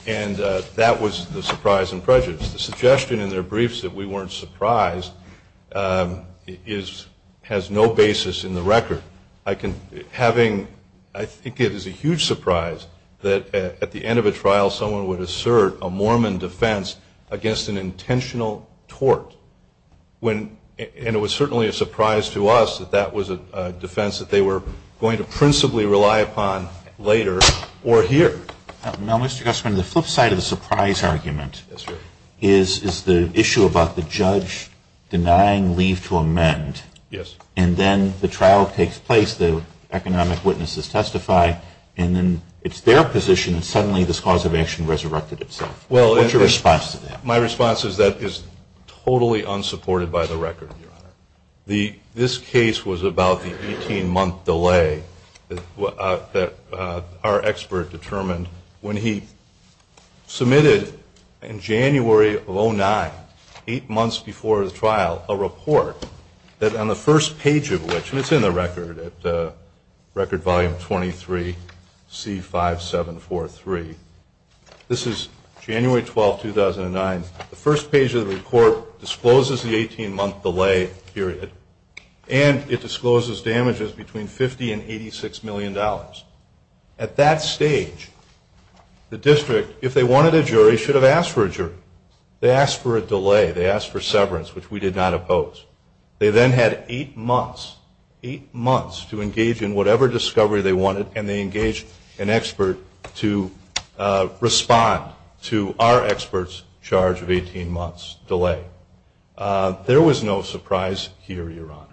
and that was the surprise and prejudice. The suggestion in the briefs that we weren't surprised has no basis in the record. I think it is a huge surprise that at the end of a trial someone would assert a Mormon defense against an intentional tort. And it was certainly a surprise to us that that was a defense that they were going to principally rely upon later or here. Now, Mr. Gustman, the flip side of the surprise argument is the issue about the judge denying leave to amend. Yes. And then the trial takes place, the economic witnesses testify, and then it's their position and suddenly this cause of action resurrected itself. What's your response to that? My response is that is totally unsupported by the record. This case was about the 18-month delay that our expert determined when he submitted in January of 2009, eight months before the trial, a report that on the first page of which, and it's in the record at Record Volume 23, C5743. This is January 12, 2009. The first page of the report discloses the 18-month delay period, and it discloses damages between $50 and $86 million. At that stage, the district, if they wanted a jury, should have asked for a jury. They asked for a delay. They asked for severance, which we did not oppose. They then had eight months, eight months to engage in whatever discovery they wanted, and they engaged an expert to respond to our expert's charge of 18 months delay. There was no surprise here, Your Honor.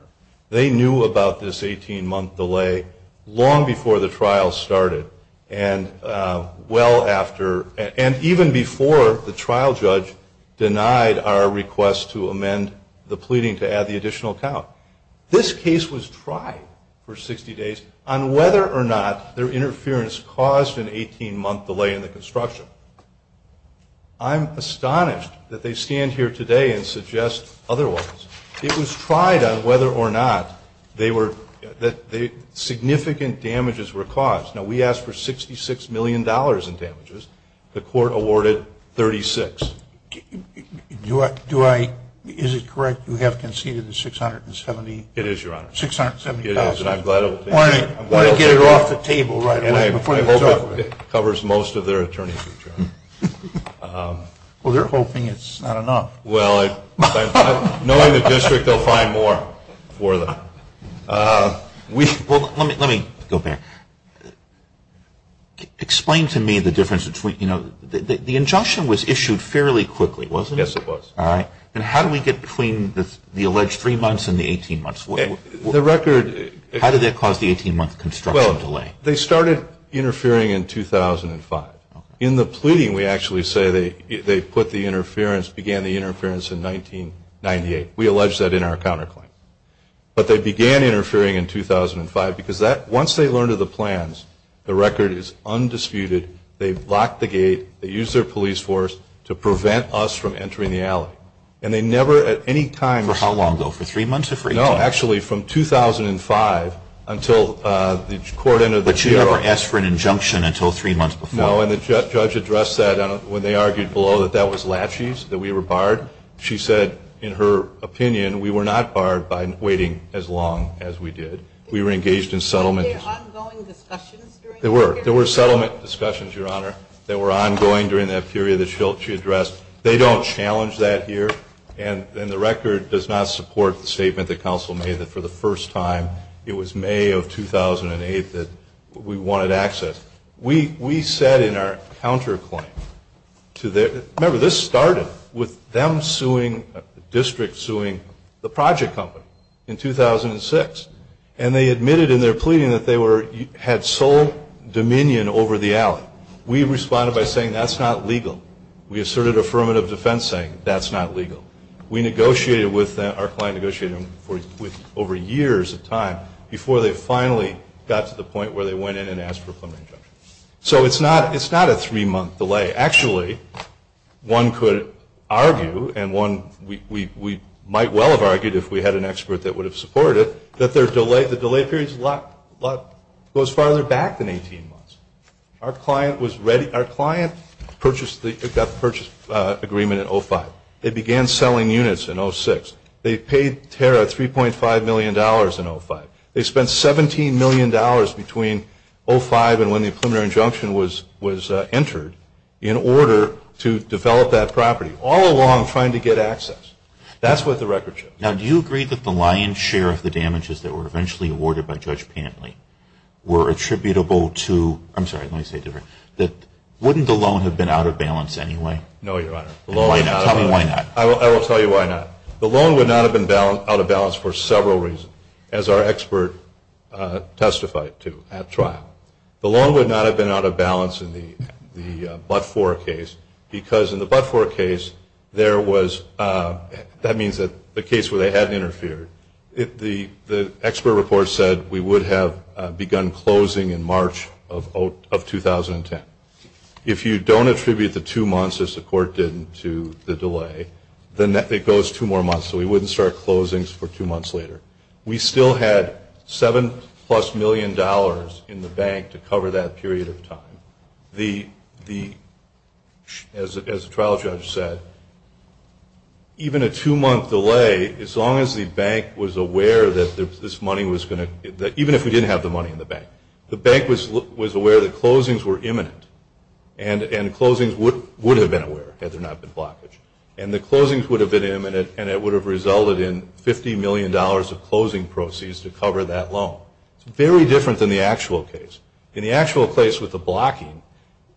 They knew about this 18-month delay long before the trial started and even before the trial judge denied our request to amend the pleading to add the additional count. This case was tried for 60 days on whether or not their interference caused an 18-month delay in the construction. I'm astonished that they stand here today and suggest otherwise. It was tried on whether or not significant damages were caused. Now, we asked for $66 million in damages. The court awarded 36. Is it correct you have conceded the $670,000? It is, Your Honor. $670,000. It is, and I'm glad it was taken. I'm going to get it off the table right away before it's over. It covers most of their attorney's return. Well, they're hoping it's not enough. Well, knowing the district, they'll find more for them. Let me go back. Explain to me the difference between, you know, the injunction was issued fairly quickly, wasn't it? Yes, it was. All right. And how did we get between the alleged three months and the 18 months? The record... How did that cause the 18-month construction delay? They started interfering in 2005. In the pleading, we actually say they put the interference, began the interference in 1998. We allege that in our counterclaim. But they began interfering in 2005 because once they learned of the plans, the record is undisputed. They blocked the gate. They used their police force to prevent us from entering the alley. And they never at any time... For how long, though? For three months or three years? No, actually, from 2005 until the court entered the... But you never asked for an injunction until three months before? No, and the judge addressed that when they argued below that that was laches, that we were barred. She said, in her opinion, we were not barred by waiting as long as we did. We were engaged in settlement... Were there ongoing discussions during that period? There were. There were settlement discussions, Your Honor, that were ongoing during that period that she addressed. They don't challenge that here. And the record does not support the statement that counsel made that for the first time it was May of 2008 that we wanted access. We said in our counterclaim to their... Remember, this started with them suing, the district suing, the project company in 2006. And they admitted in their pleading that they had sole dominion over the alley. We responded by saying, that's not legal. We asserted affirmative defense saying, that's not legal. We negotiated with our client negotiator for over years of time before they finally got to the point where they went in and asked for an injunction. So it's not a three-month delay. Actually, one could argue, and we might well have argued if we had an expert that would have supported it, that the delay period goes farther back than 18 months. Our client got the purchase agreement in 2005. They began selling units in 2006. They paid Tara $3.5 million in 2005. They spent $17 million between 2005 and when the preliminary injunction was entered in order to develop that property, all along trying to get access. That's what the record shows. Now, do you agree that the lion's share of the damages that were eventually awarded by Judge Pantley were attributable to... I'm sorry, let me say it differently. Wouldn't the loan have been out of balance anyway? No, Your Honor. Tell me why not. I will tell you why not. The loan would not have been out of balance for several reasons, as our expert testified to at trial. The loan would not have been out of balance in the Butt IV case because in the Butt IV case, that means the case where they hadn't interfered. The expert report said we would have begun closing in March of 2010. If you don't attribute the two months, as the court did, to the delay, then it goes two more months. So we wouldn't start closings for two months later. We still had seven-plus million dollars in the bank to cover that period of time. As the trial judge said, even a two-month delay, as long as the bank was aware that this money was going to... even if we didn't have the money in the bank, the bank was aware that closings were imminent, and closings would have been aware had there not been blockage. And the closings would have been imminent, and it would have resulted in $50 million of closing proceeds to cover that loan. It's very different than the actual case. In the actual case with the blocking,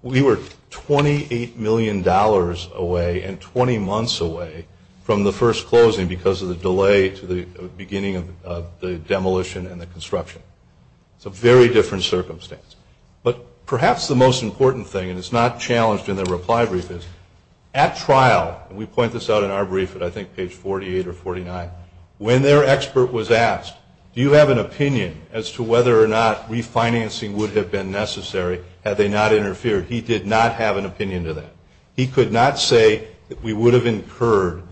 we were $28 million away and 20 months away from the first closing because of the delay to the beginning of the demolition and the construction. It's a very different circumstance. But perhaps the most important thing, and it's not challenged in the reply brief, is at trial, and we point this out in our brief at I think page 48 or 49, when their expert was asked, do you have an opinion as to whether or not refinancing would have been necessary had they not interfered, he did not have an opinion to that. He could not say that we would have incurred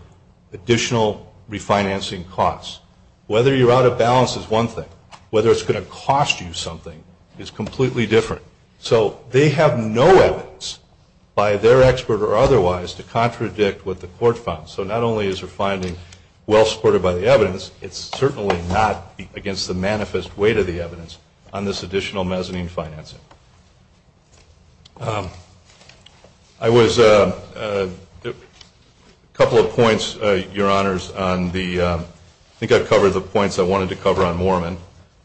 additional refinancing costs. Whether you're out of balance is one thing. Whether it's going to cost you something is completely different. So they have no evidence, by their expert or otherwise, to contradict what the court found. So not only is your finding well supported by the evidence, it's certainly not against the manifest weight of the evidence on this additional mezzanine financing. A couple of points, Your Honors, I think I've covered the points I wanted to cover on Moorman.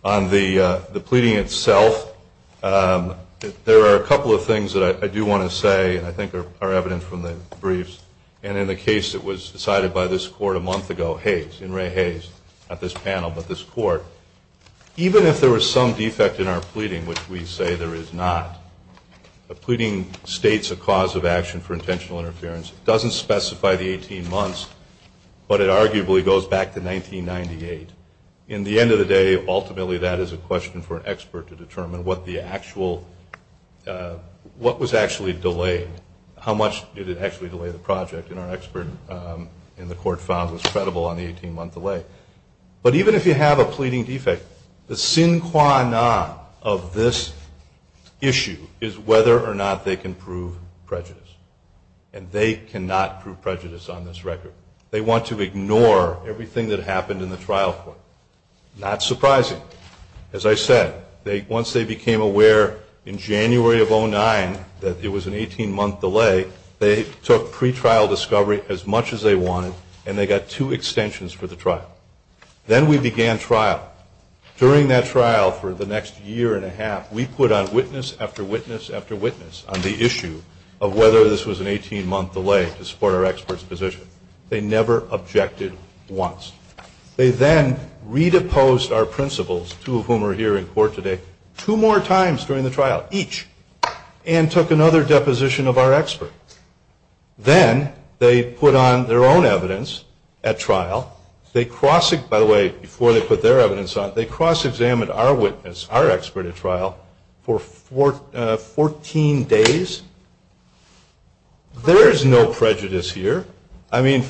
On the pleading itself, there are a couple of things that I do want to say I think are evident from the briefs. And in the case that was decided by this court a month ago, Hayes, in Ray Hayes, not this panel, but this court, even if there was some defect in our pleading, which we say there is not, the pleading states a cause of action for intentional interference. It doesn't specify the 18 months, but it arguably goes back to 1998. In the end of the day, ultimately that is a question for an expert to determine what the actual, what was actually delayed, how much did it actually delay the project. And our expert in the court found was credible on the 18-month delay. But even if you have a pleading defect, the sine qua non of this issue is whether or not they can prove prejudice. And they cannot prove prejudice on this record. They want to ignore everything that happened in the trial court. Not surprising. As I said, once they became aware in January of 2009 that there was an 18-month delay, they took pretrial discovery as much as they wanted, and they got two extensions for the trial. Then we began trial. During that trial for the next year and a half, we put on witness after witness after witness on the issue of whether this was an 18-month delay to support our expert's position. They never objected once. They then re-deposed our principles, two of whom are here in court today, two more times during the trial, each, and took another deposition of our expert. Then they put on their own evidence at trial. They cross-examined our witness, our expert at trial, for 14 days. There is no prejudice here. I mean,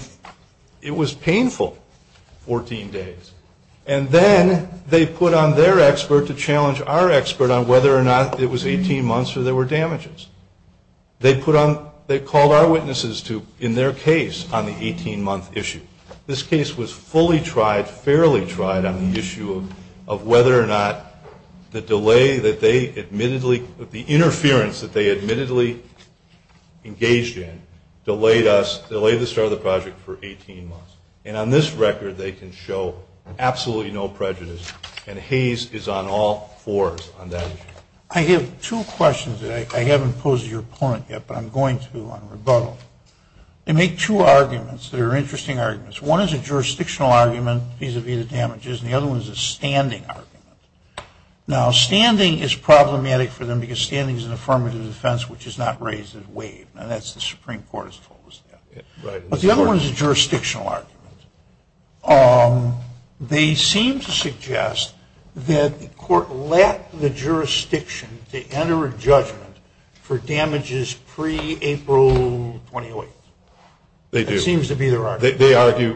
it was painful, 14 days. And then they put on their expert to challenge our expert on whether or not it was 18 months or there were damages. They called our witnesses in their case on the 18-month issue. This case was fully tried, fairly tried, on the issue of whether or not the delay that they admittedly, the interference that they admittedly engaged in delayed us, delayed the start of the project for 18 months. And on this record, they can show absolutely no prejudice. And Hays is on all fours on that issue. I have two questions that I haven't posed to your opponent yet, but I'm going to on rebuttal. They make two arguments that are interesting arguments. One is a jurisdictional argument vis-à-vis the damages, and the other one is a standing argument. Now, standing is problematic for them because standing is an affirmative defense, which is not raised in waive. Now, that's the Supreme Court's focus. But the other one is a jurisdictional argument. They seem to suggest that the court let the jurisdiction to enter a judgment for damages pre-April 2008. They do. That seems to be their argument.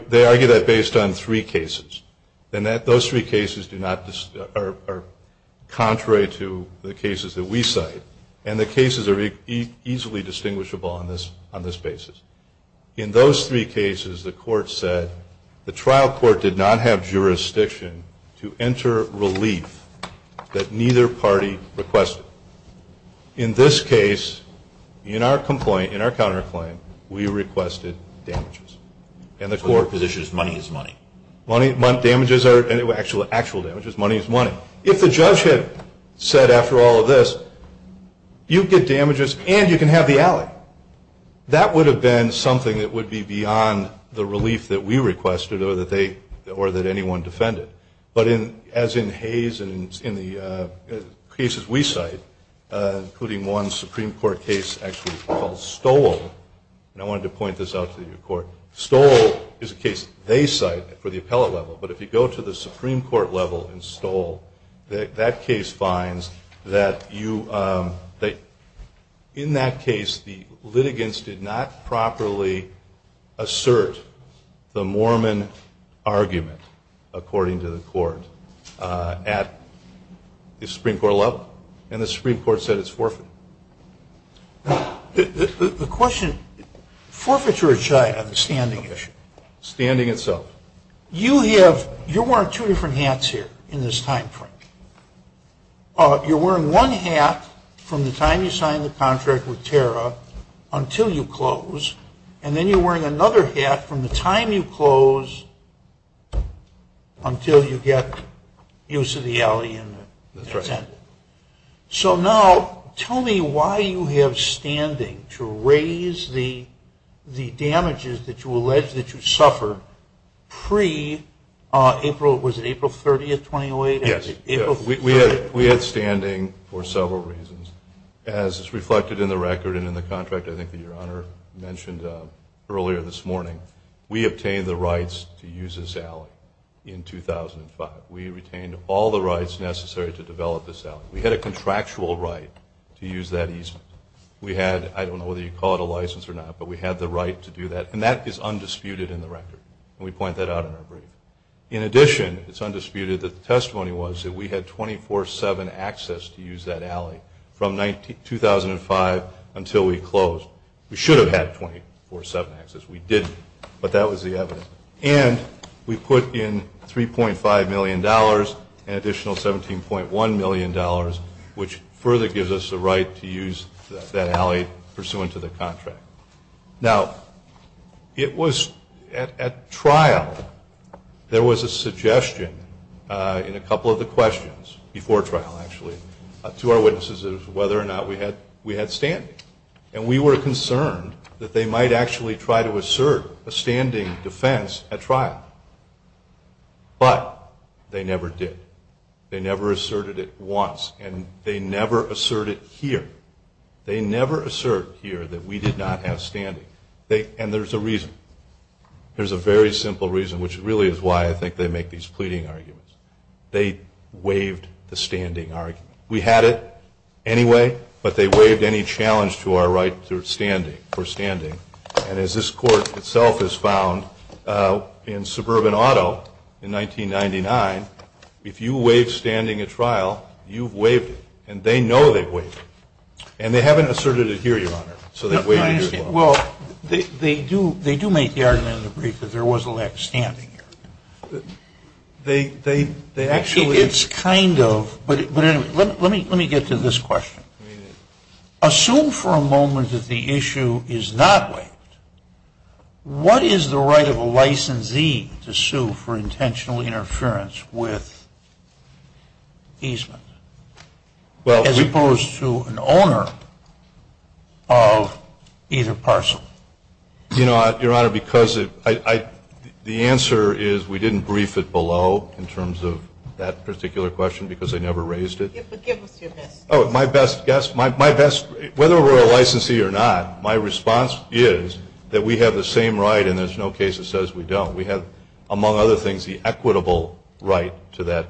They argue that based on three cases, and those three cases are contrary to the cases that we cite, and the cases are easily distinguishable on this basis. In those three cases, the court said the trial court did not have jurisdiction to enter relief that neither party requested. In this case, in our complaint, in our counterclaim, we requested damages. And the court position is money is money. Money, damages are actual damages. Money is money. If the judge had said after all of this, you get damages and you can have the alley, that would have been something that would be beyond the relief that we requested or that anyone defended. But as in Hayes and in the cases we cite, including one Supreme Court case actually called Stoll, and I wanted to point this out to the court, Stoll is a case they cite for the appellate level, but if you go to the Supreme Court level in Stoll, that case finds that in that case, the litigants did not properly assert the Mormon argument, according to the court, at the Supreme Court level, and the Supreme Court said it's forfeit. The question, forfeiture or chai of the standing issue? Standing itself. You have, you're wearing two different hats here in this time frame. You're wearing one hat from the time you signed the contract with Tara until you close, and then you're wearing another hat from the time you close until you get use of the alley and the tent. So now, tell me why you have standing to raise the damages that you allege that you suffered pre-April, was it April 30th, 2008? Yes. We had standing for several reasons. As is reflected in the record and in the contract I think that your Honor mentioned earlier this morning, we obtained the rights to use this alley in 2005. We retained all the rights necessary to develop this alley. We had a contractual right to use that easement. We had, I don't know whether you call it a license or not, but we had the right to do that, and that is undisputed in the record, and we point that out in our brief. In addition, it's undisputed that the testimony was that we had 24-7 access to use that alley from 2005 until we closed. We should have had 24-7 access. We didn't, but that was the evidence. And we put in $3.5 million, an additional $17.1 million, which further gives us the right to use that alley pursuant to the contract. Now, it was at trial there was a suggestion in a couple of the questions, before trial actually, to our witnesses as to whether or not we had standing. And we were concerned that they might actually try to assert a standing defense at trial. But they never did. They never asserted it once, and they never asserted it here. They never asserted here that we did not have standing. And there's a reason. There's a very simple reason, which really is why I think they make these pleading arguments. They waived the standing argument. We had it anyway, but they waived any challenge to our right for standing. And as this court itself has found in Suburban Auto in 1999, if you waive standing at trial, you've waived it. And they know they've waived it. And they haven't asserted it here, Your Honor, so they've waived it here. Well, they do make the argument in the brief that there was a lack of standing here. Actually, it's kind of. But anyway, let me get to this question. Assume for a moment that the issue is not waived. What is the right of a licensee to sue for intentional interference with easement? As opposed to an owner of either parcel. You know, Your Honor, because the answer is we didn't brief it below in terms of that particular question because I never raised it. Oh, my best guess. Whether we're a licensee or not, my response is that we have the same right, and there's no case that says we don't. We have, among other things, the equitable right to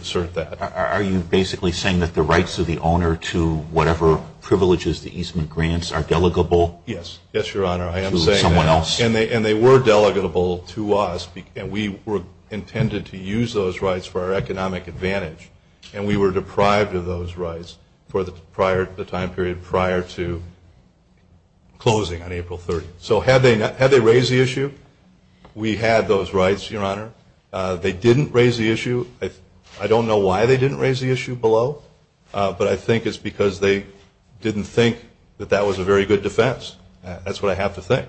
assert that. Are you basically saying that the rights of the owner to whatever privileges the easement grants are delegable? Yes, Your Honor, I am saying that. And they were delegable to us. We intended to use those rights for our economic advantage, and we were deprived of those rights for the time period prior to closing on April 30th. So had they raised the issue, we had those rights, Your Honor. They didn't raise the issue. I don't know why they didn't raise the issue below, but I think it's because they didn't think that that was a very good defense. That's what I have to think.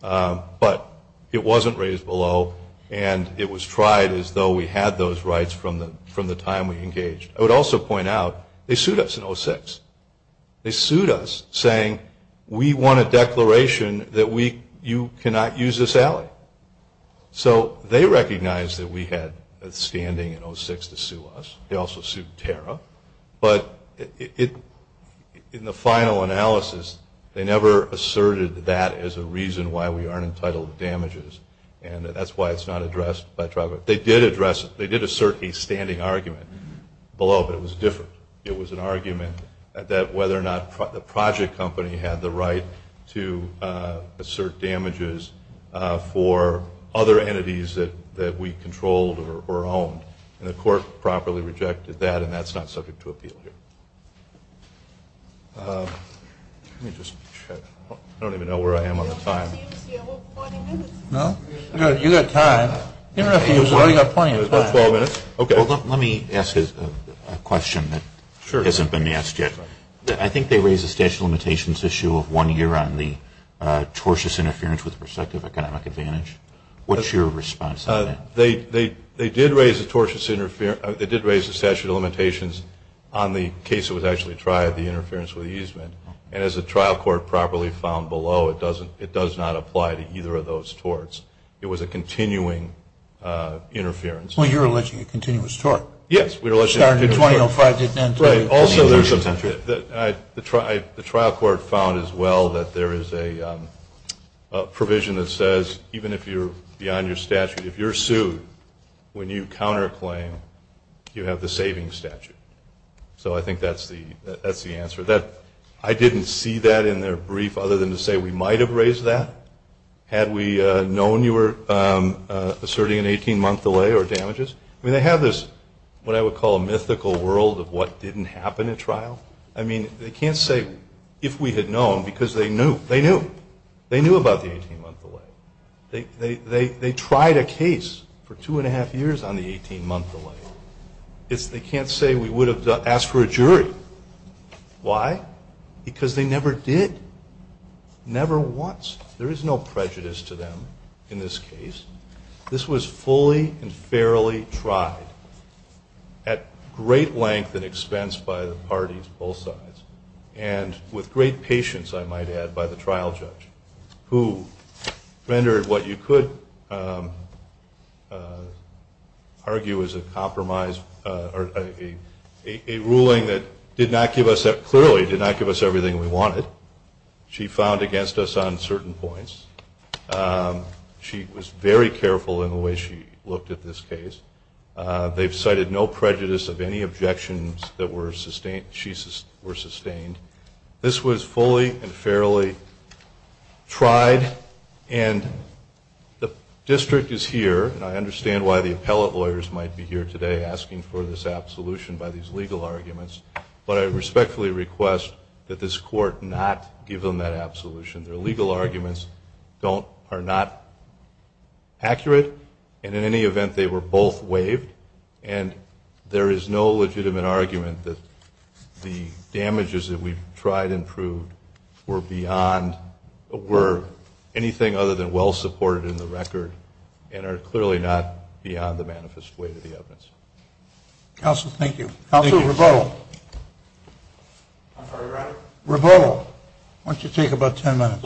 But it wasn't raised below, and it was tried as though we had those rights from the time we engaged. I would also point out they sued us in 2006. They sued us saying we want a declaration that you cannot use this alley. So they recognized that we had standing in 2006 to sue us. They also sued Tara. But in the final analysis, they never asserted that as a reason why we aren't entitled to damages, and that's why it's not addressed by Tribal Court. They did address it. They did assert a standing argument below, but it was different. It was an argument that whether or not the project company had the right to assert damages for other entities that we controlled or owned, and the court properly rejected that, and that's not subject to appeal here. Let me just check. I don't even know where I am on the time. No? You've got time. You've got plenty of time. Okay. Let me ask a question that hasn't been asked yet. I think they raised the statute of limitations issue of one year on the tortious interference with prospective economic advantage. What's your response to that? They did raise the statute of limitations on the case that was actually tried, the interference with easement, and as the trial court properly found below, it does not apply to either of those torts. It was a continuing interference. Well, you're alleging a continuous tort. Yes, we're alleging a continuous tort. Also, the trial court found as well that there is a provision that says even if you're beyond your statute, if you're sued, when you counterclaim, you have the saving statute. So I think that's the answer. I didn't see that in their brief other than to say we might have raised that. Had we known you were asserting an 18-month delay or damages? I mean, they have this what I would call a mythical world of what didn't happen at trial. I mean, they can't say if we had known because they knew. They knew. They knew about the 18-month delay. They tried a case for two and a half years on the 18-month delay. They can't say we would have asked for a jury. Why? Because they never did. Never once. There is no prejudice to them in this case. This was fully and fairly tried at great length and expense by the parties of both sides and with great patience, I might add, by the trial judge, who rendered what you could argue is a compromise or a ruling that did not give us that. Clearly, it did not give us everything we wanted. She found against us on certain points. She was very careful in the way she looked at this case. They've cited no prejudice of any objections that were sustained. This was fully and fairly tried, and the district is here, and I understand why the appellate lawyers might be here today asking for this absolution by these legal arguments, but I respectfully request that this court not give them that absolution. Their legal arguments are not accurate, and in any event, they were both waived, and there is no legitimate argument that the damages that we tried and proved were beyond, were anything other than well supported in the record and are clearly not beyond the manifest way of the evidence. Counsel, thank you. Counsel, Revelle. I'm sorry, Your Honor. Revelle, why don't you take about ten minutes.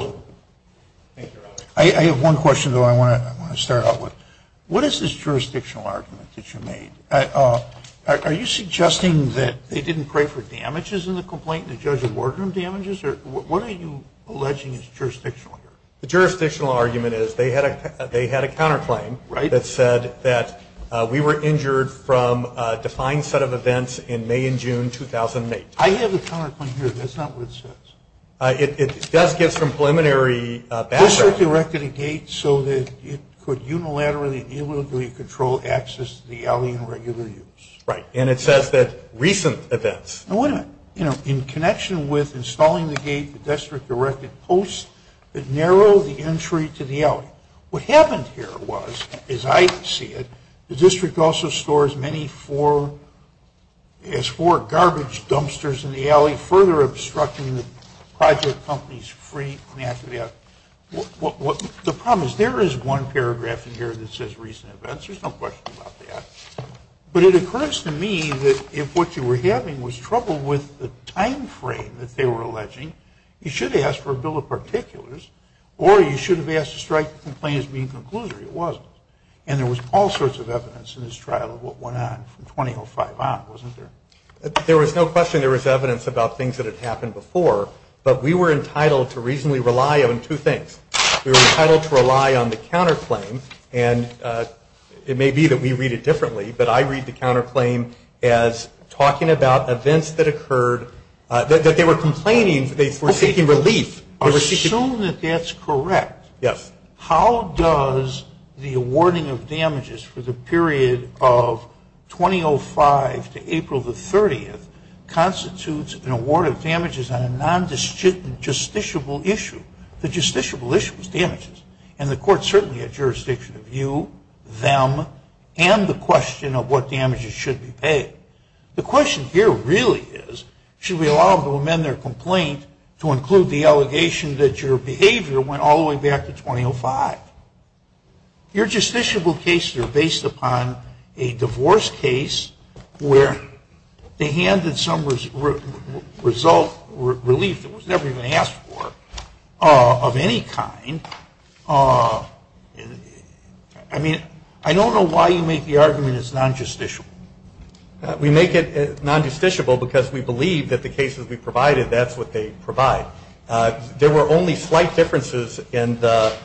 Thank you, Your Honor. I have one question, though, I want to start out with. What is this jurisdictional argument that you made? Are you suggesting that they didn't pray for damages in the complaint, and the judge would work on damages, or what are you alleging is jurisdictional? The jurisdictional argument is they had a counterclaim that said that we were injured from a defined set of events in May and June 2008. I have a counterclaim here, but that's not what it says. It does get some preliminary background. The district erected a gate so that it could unilaterally and illegally control access to the alley in regular use. Right, and it says that recent events. In connection with installing the gate, the district erected posts that narrowed the entry to the alley. What happened here was, as I see it, the district also stores as many as four garbage dumpsters in the alley, further obstructing the project company's free access. The problem is there is one paragraph in here that says recent events. There's no question about that. But it occurs to me that if what you were having was trouble with the time frame that they were alleging, you should have asked for a bill of particulars, or you should have asked to strike the complaint as being conclusive. It wasn't. And there was all sorts of evidence in this trial of what went on from 2005 on, wasn't there? There was no question there was evidence about things that had happened before, but we were entitled to reasonably rely on two things. We were entitled to rely on the counterclaim, and it may be that we read it differently, but I read the counterclaim as talking about events that occurred, that they were complaining they were taking relief. Assume that that's correct. Yes. How does the awarding of damages for the period of 2005 to April the 30th constitute an award of damages on a non-justiciable issue? The justiciable issue is damages, and the court certainly had jurisdiction of you, them, and the question of what damages should be paid. The question here really is should we allow them to amend their complaint to include the allegation that your behavior went all the way back to 2005? Your justiciable case here based upon a divorce case where they handed some result, relief that was never even asked for of any kind. I mean, I don't know why you make the argument it's non-justiciable. We make it non-justiciable because we believe that the cases we provided, that's what they provide. There were only slight differences in the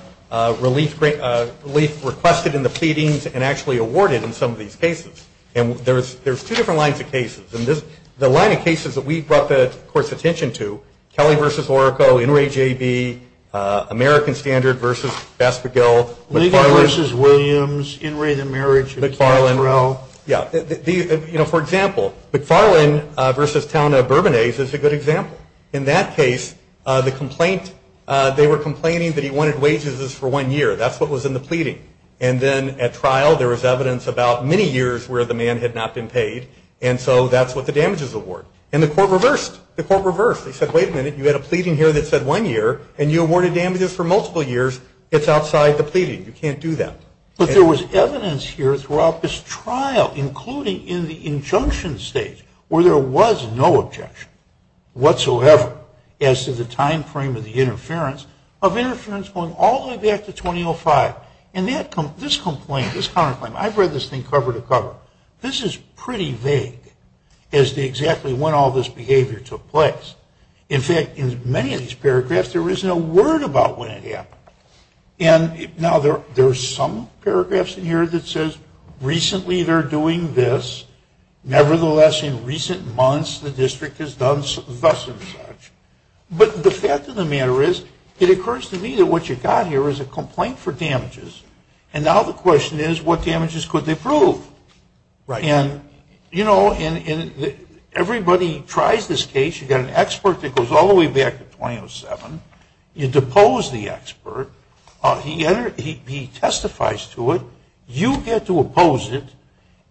relief requested in the pleadings and actually awarded in some of these cases, and there's two different lines of cases, and the line of cases that we've brought the court's attention to, Kelly v. Orrico, Inouye J.B., American Standard v. Baskerville. Ligon v. Williams, Inouye the marriage, McFarland. Yeah. You know, for example, McFarland v. Town of Bourbonnaise is a good example. In that case, the complaint, they were complaining that he wanted wages for one year. That's what was in the pleading, and then at trial there was evidence about many years where the man had not been paid, and so that's what the damages award, and the court reversed. The court reversed. They said, wait a minute, you had a pleading here that said one year, and you awarded damages for multiple years. It's outside the pleading. You can't do that. But there was evidence here throughout this trial, including in the injunction state where there was no objection whatsoever as to the time frame of the interference, of interference going all the way back to 2005, and this complaint, this counterclaim, I've read this thing cover to cover. This is pretty vague as to exactly when all this behavior took place. In fact, in many of these paragraphs there is no word about when it happened, and now there are some paragraphs in here that says recently they're doing this, nevertheless in recent months the district has done such and such. But the fact of the matter is, it occurs to me that what you've got here is a complaint for damages, and now the question is what damages could they prove? And, you know, everybody tries this case. You've got an expert that goes all the way back to 2007. You depose the expert. He testifies to it. You get to oppose it,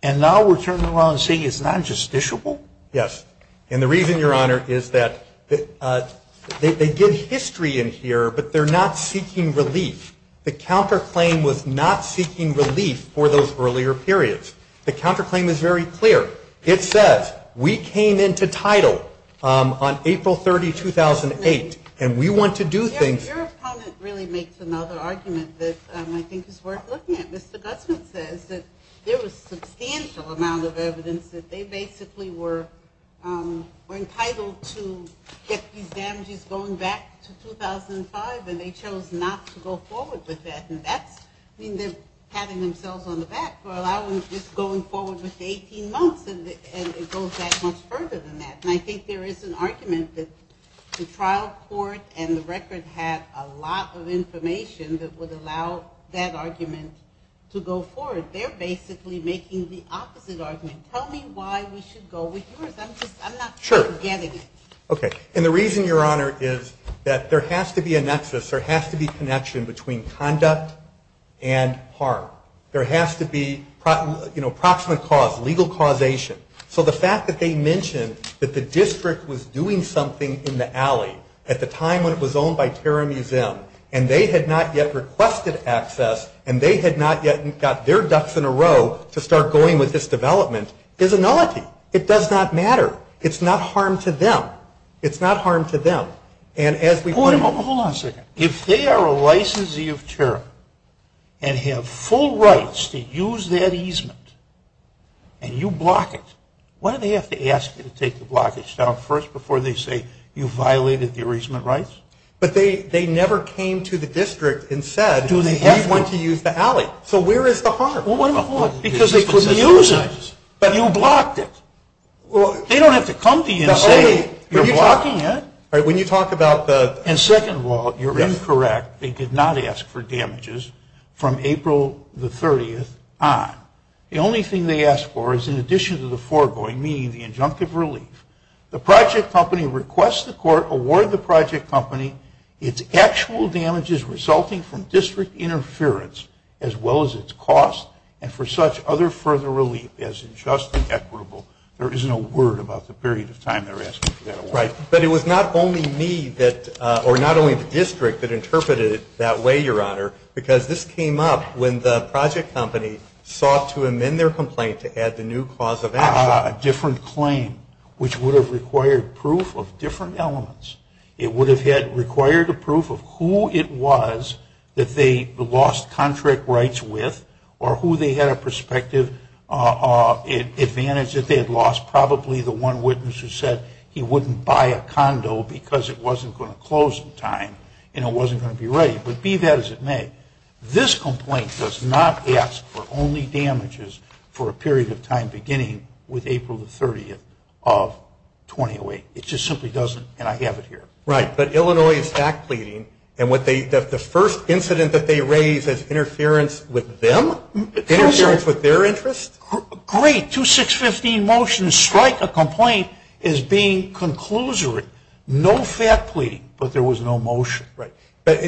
and now we're turning around and saying it's not justiciable? Yes, and the reason, Your Honor, is that they give history in here, but they're not seeking relief. The counterclaim was not seeking relief for those earlier periods. The counterclaim is very clear. It says we came into title on April 30, 2008, and we want to do things. Your comment really makes another argument that I think is worth looking at. Mr. Dutton says that there was a substantial amount of evidence that they basically were entitled to get these damages going back to 2005, and they chose not to go forward with that, and that means they're patting themselves on the back for allowing them to just go forward with the 18 months, and it goes that much further than that. And I think there is an argument that the trial court and the record have a lot of information that would allow that argument to go forward. They're basically making the opposite argument. Tell me why we should go with yours. I'm not forgetting it. Okay, and the reason, Your Honor, is that there has to be a nexus, there has to be a connection between conduct and harm. There has to be approximate cause, legal causation. So the fact that they mentioned that the district was doing something in the alley at the time when it was owned by Terra Museum, and they had not yet requested access, and they had not yet got their ducks in a row to start going with this development, is a nullity. It does not matter. It's not harm to them. It's not harm to them. Point of a pause. If they are a licensee of Terra and have full rights to use that easement, and you block it, why do they have to ask you to take the blockage down first before they say you violated the easement rights? But they never came to the district and said we want to use the alley. So where is the harm? Because they could use it, but you blocked it. They don't have to come to you and say you're blocking it. When you talk about the second law, you're incorrect. They did not ask for damages from April the 30th on. The only thing they asked for is in addition to the foregoing, meaning the injunctive relief, the project company requests the court award the project company its actual damages resulting from district interference as well as its cost and for such other further relief as unjust and equitable. There is no word about the period of time they're asking for that award. But it was not only me or not only the district that interpreted it that way, Your Honor, because this came up when the project company sought to amend their complaint to add the new clause of action, a different claim, which would have required proof of different elements. It would have required the proof of who it was that they lost contract rights with or who they had a prospective advantage if they had lost, probably the one witness who said he wouldn't buy a condo because it wasn't going to close in time and it wasn't going to be ready. But be that as it may, this complaint does not ask for only damages for a period of time beginning with April the 30th of 2008. It just simply doesn't, and I have it here. Right, but Illinois is fact pleading, and the first incident that they raise is interference with them? Interference with their interests? Great, 2-6-15 motion to strike a complaint is being conclusory. No fact pleading, but there was no motion. Right, but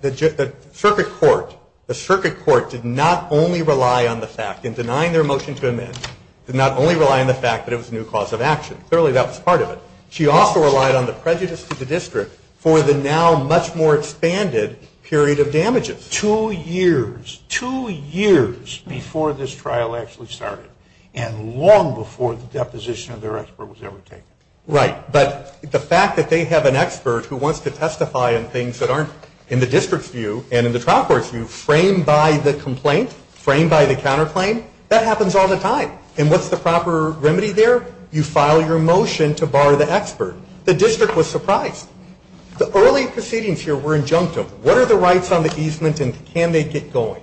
the circuit court did not only rely on the fact in denying their motion to amend, did not only rely on the fact that it was a new clause of action. Clearly that was part of it. She also relied on the prejudice of the district for the now much more expanded period of damages. Two years, two years before this trial actually started and long before the deposition of their expert was ever taken. Right, but the fact that they have an expert who wants to testify on things that aren't in the district's view and in the trial court's view framed by the complaint, framed by the counterclaim, that happens all the time. And what's the proper remedy there? You file your motion to bar the expert. The district was surprised. The early proceedings here were injunctive. What are the rights on the easement and can they get going?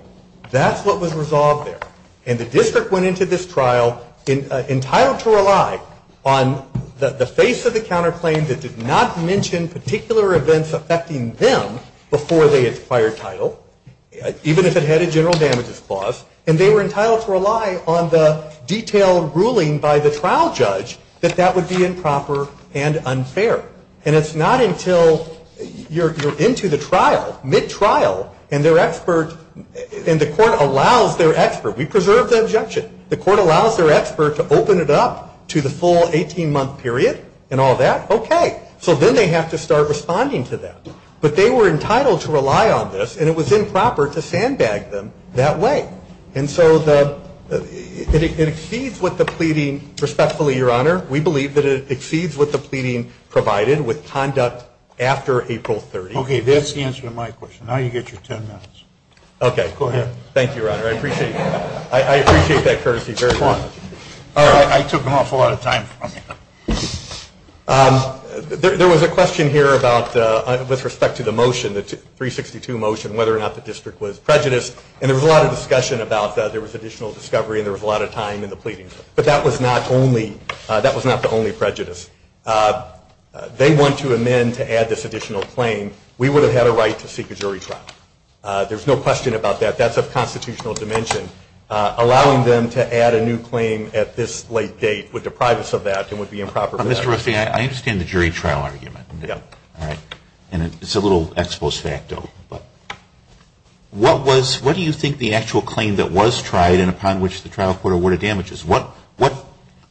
That's what was resolved there. And the district went into this trial entitled to rely on the face of the counterclaim that did not mention particular events affecting them before they acquired title, even if it had a general damages clause, and they were entitled to rely on the detailed ruling by the trial judge that that would be improper and unfair. And it's not until you're into the trial, mid-trial, and the court allows their expert. We preserved the objection. The court allows their expert to open it up to the full 18-month period and all that. Okay. So then they have to start responding to that. But they were entitled to rely on this, and it was improper to sandbag them that way. And so it exceeds what the pleading, respectfully, Your Honor, we believe that it exceeds what the pleading provided with conduct after April 30th. Okay. That's the answer to my question. Now you get your 10 minutes. Okay. Thank you, Your Honor. I appreciate that. Thank you very much. I took an awful lot of time from you. There was a question here with respect to the motion, the 362 motion, whether or not the district was prejudiced. And there was a lot of discussion about there was additional discovery and there was a lot of time in the pleading. But that was not the only prejudice. They want to amend to add this additional claim. We would have had a right to seek a jury trial. There's no question about that. That's a constitutional dimension. Allowing them to add a new claim at this late date would deprive us of that and would be improper. Mr. Ruffin, I understand the jury trial argument. Yeah. All right. And it's a little ex post facto. What do you think the actual claim that was tried and upon which the trial court awarded damage is? What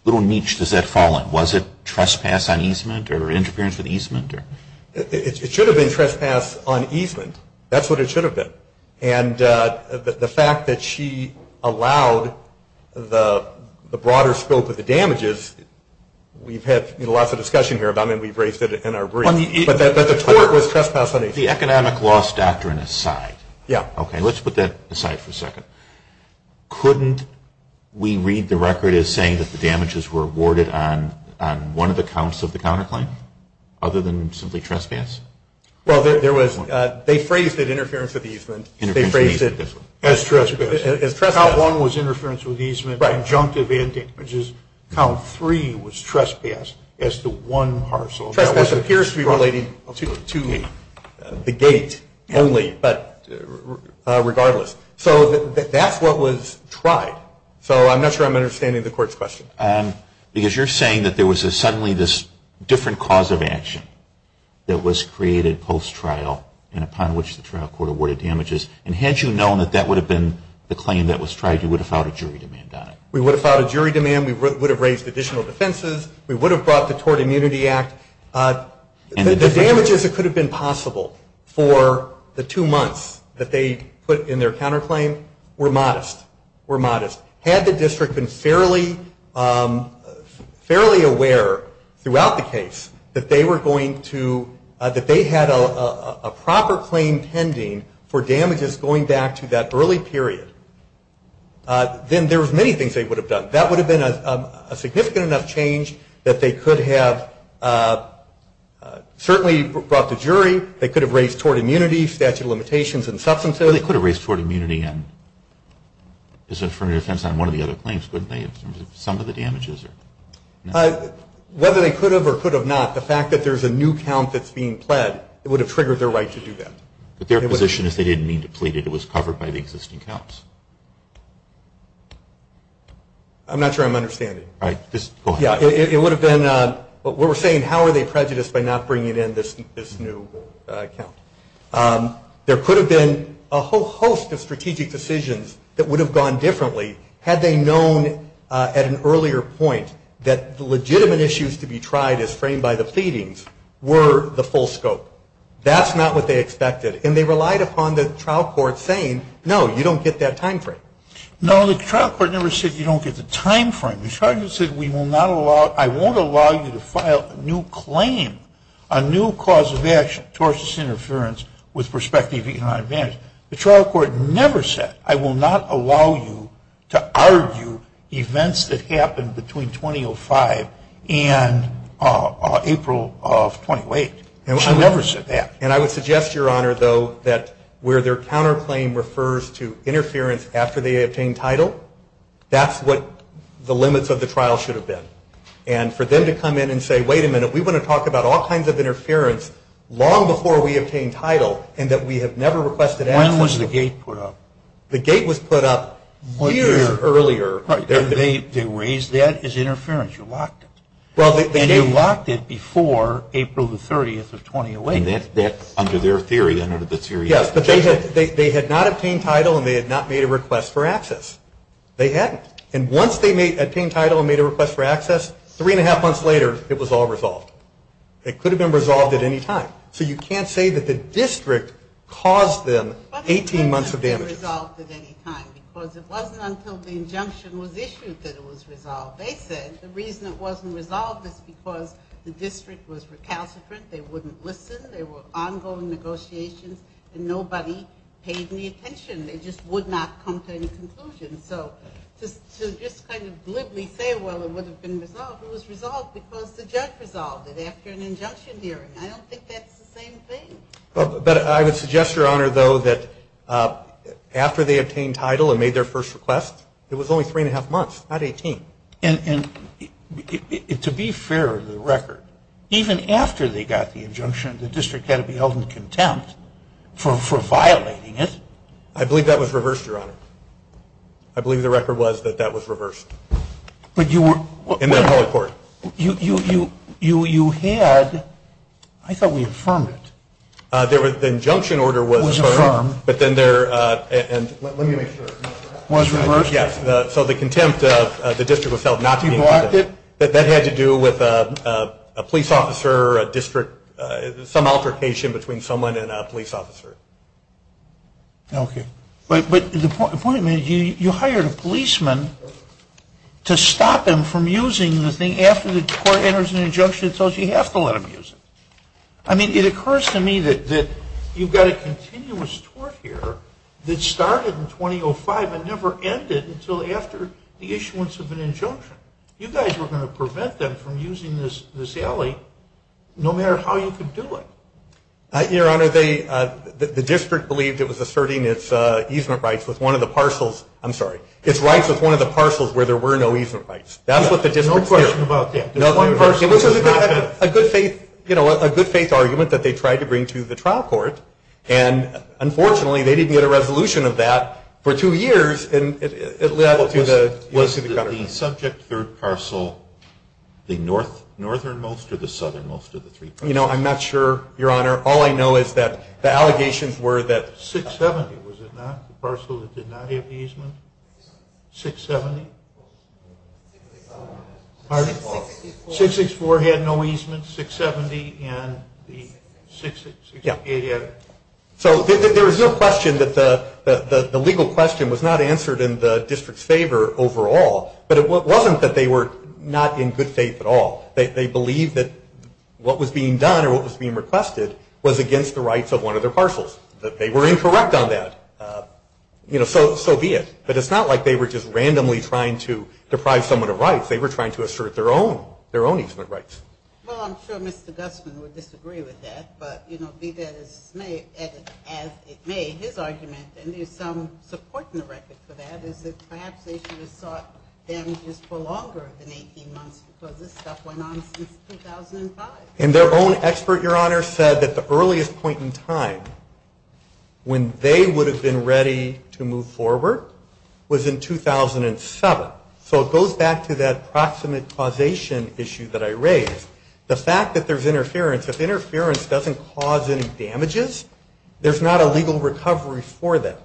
little niche does that fall in? Was it trespass on easement or interference with easement? It should have been trespass on easement. That's what it should have been. And the fact that she allowed the broader scope of the damages, we've had lots of discussion here about it and we've raised it in our brief. But the court was trespass on easement. The economic loss doctrine aside. Yeah. Okay, let's put that aside for a second. Couldn't we read the record as saying that the damages were awarded on one of the counts of the counterclaim other than simply trespass? Well, they phrased it interference with easement. They phrased it as trespass. Count one was interference with easement. Conjunctive damages. Count three was trespass as to one parcel. It appears to be relating to the gate only, but regardless. So that's what was tried. So I'm not sure I'm understanding the court's question. Because you're saying that there was suddenly this different cause of action that was created post-trial and upon which the trial court awarded damages. And had you known that that would have been the claim that was tried, you would have filed a jury demand on it. We would have filed a jury demand. We would have raised additional defenses. We would have brought the Tort Immunity Act. The damages that could have been possible for the two months that they put in their counterclaim were modest. Had the district been fairly aware throughout the case that they were going to – that they had a proper claim pending for damages going back to that early period, then there was many things they would have done. That would have been a significant enough change that they could have certainly brought the jury. They could have raised tort immunity, statute of limitations, and substance abuse. They could have raised tort immunity and sent for a defense on one of the other claims, couldn't they, in terms of some of the damages? Whether they could have or could have not, the fact that there's a new count that's being pled, it would have triggered their right to do that. But their position is they didn't need to plead it. It was covered by the existing counts. I'm not sure I'm understanding. Just go ahead. It would have been – we're saying how are they prejudiced by not bringing in this new count. There could have been a whole host of strategic decisions that would have gone differently had they known at an earlier point that the legitimate issues to be tried as framed by the pleadings were the full scope. That's not what they expected. And they relied upon the trial court saying, no, you don't get that time frame. No, the trial court never said you don't get the time frame. The trial court said we will not allow – I won't allow you to file a new claim, a new cause of action, tortious interference with prospective economic damage. The trial court never said I will not allow you to argue events that happened between 2005 and April of 2008. They never said that. And I would suggest, Your Honor, though, that where their counterclaim refers to interference after they obtain title, that's what the limits of the trial should have been. And for them to come in and say, wait a minute, we want to talk about all kinds of interference long before we obtain title and that we have never requested access. When was the gate put up? The gate was put up a year earlier. They raised that as interference. You locked it. You locked it before April the 30th of 2008. And that's under their theory. Yes, but they had not obtained title and they had not made a request for access. They hadn't. And once they obtained title and made a request for access, three and a half months later it was all resolved. It could have been resolved at any time. So you can't say that the district caused them 18 months of damage. It wasn't resolved at any time because it wasn't until the injunction was issued that it was resolved. They said the reason it wasn't resolved was because the district was recalcitrant. They wouldn't listen. There were ongoing negotiations and nobody paid any attention. They just would not come to any conclusions. To just kind of blithely say, well, it would have been resolved, it was resolved because the judge resolved it after an injunction hearing. I don't think that's the same thing. But I would suggest, Your Honor, though, that after they obtained title and made their first request, it was only three and a half months, not 18. And to be fair to the record, even after they got the injunction, the district had to be held in contempt for violating it. I believe that was reversed, Your Honor. I believe the record was that that was reversed in the appellate court. You had ‑‑ I thought we affirmed it. The injunction order was affirmed. It was affirmed. But then there ‑‑ let me make sure. It was reversed? Yes. So the contempt, the district was held not in contempt. People acted? That had to do with a police officer, a district, some altercation between someone and a police officer. Okay. But the point of it is you hired a policeman to stop them from using the thing. After the court enters an injunction, it tells you you have to let them use it. I mean, it occurs to me that you've got a continuous court here that started in 2005 and never ended until after the issuance of an injunction. You guys were going to prevent them from using this alley no matter how you could do it. Your Honor, the district believed it was asserting its easement rights with one of the parcels. I'm sorry. Its rights with one of the parcels where there were no easement rights. That's what they did. No question about that. It was a good faith argument that they tried to bring to the trial court. And unfortunately, they didn't get a resolution of that for two years. The subject third parcel, the northernmost or the southernmost of the three parcels? You know, I'm not sure, Your Honor. All I know is that the allegations were that 670, was it not? The parcel that did not have the easement? 670? Pardon? 664 had no easement. 670 and the 668 had it. So there was no question that the legal question was not answered in the district's favor overall. But it wasn't that they were not in good faith at all. They believed that what was being done or what was being requested was against the rights of one of the parcels, that they were incorrect on that. You know, so be it. But it's not like they were just randomly trying to deprive someone of rights. They were trying to assert their own easement rights. Well, I'm sure Mr. Dubson would disagree with that. But, you know, be that as it may, his argument, and there's some support in the record for that, is that perhaps they should have thought damages for longer than 18 months, because this stuff went on since 2005. And their own expert, Your Honor, said that the earliest point in time when they would have been ready to move forward was in 2007. So it goes back to that proximate causation issue that I raised. The fact that there's interference, if interference doesn't cause any damages, there's not a legal recovery for that.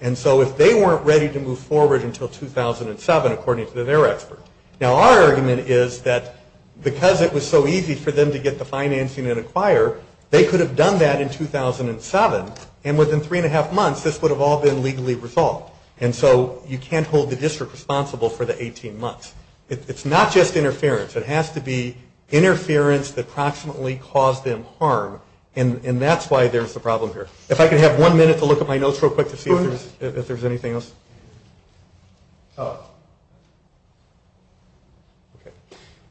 And so if they weren't ready to move forward until 2007, according to their expert. Now our argument is that because it was so easy for them to get the financing and acquire, they could have done that in 2007. And within three and a half months, this would have all been legally resolved. And so you can't hold the district responsible for the 18 months. It's not just interference. It has to be interference that proximately caused them harm. And that's why there's a problem here. If I could have one minute to look at my notes real quick to see if there's anything else.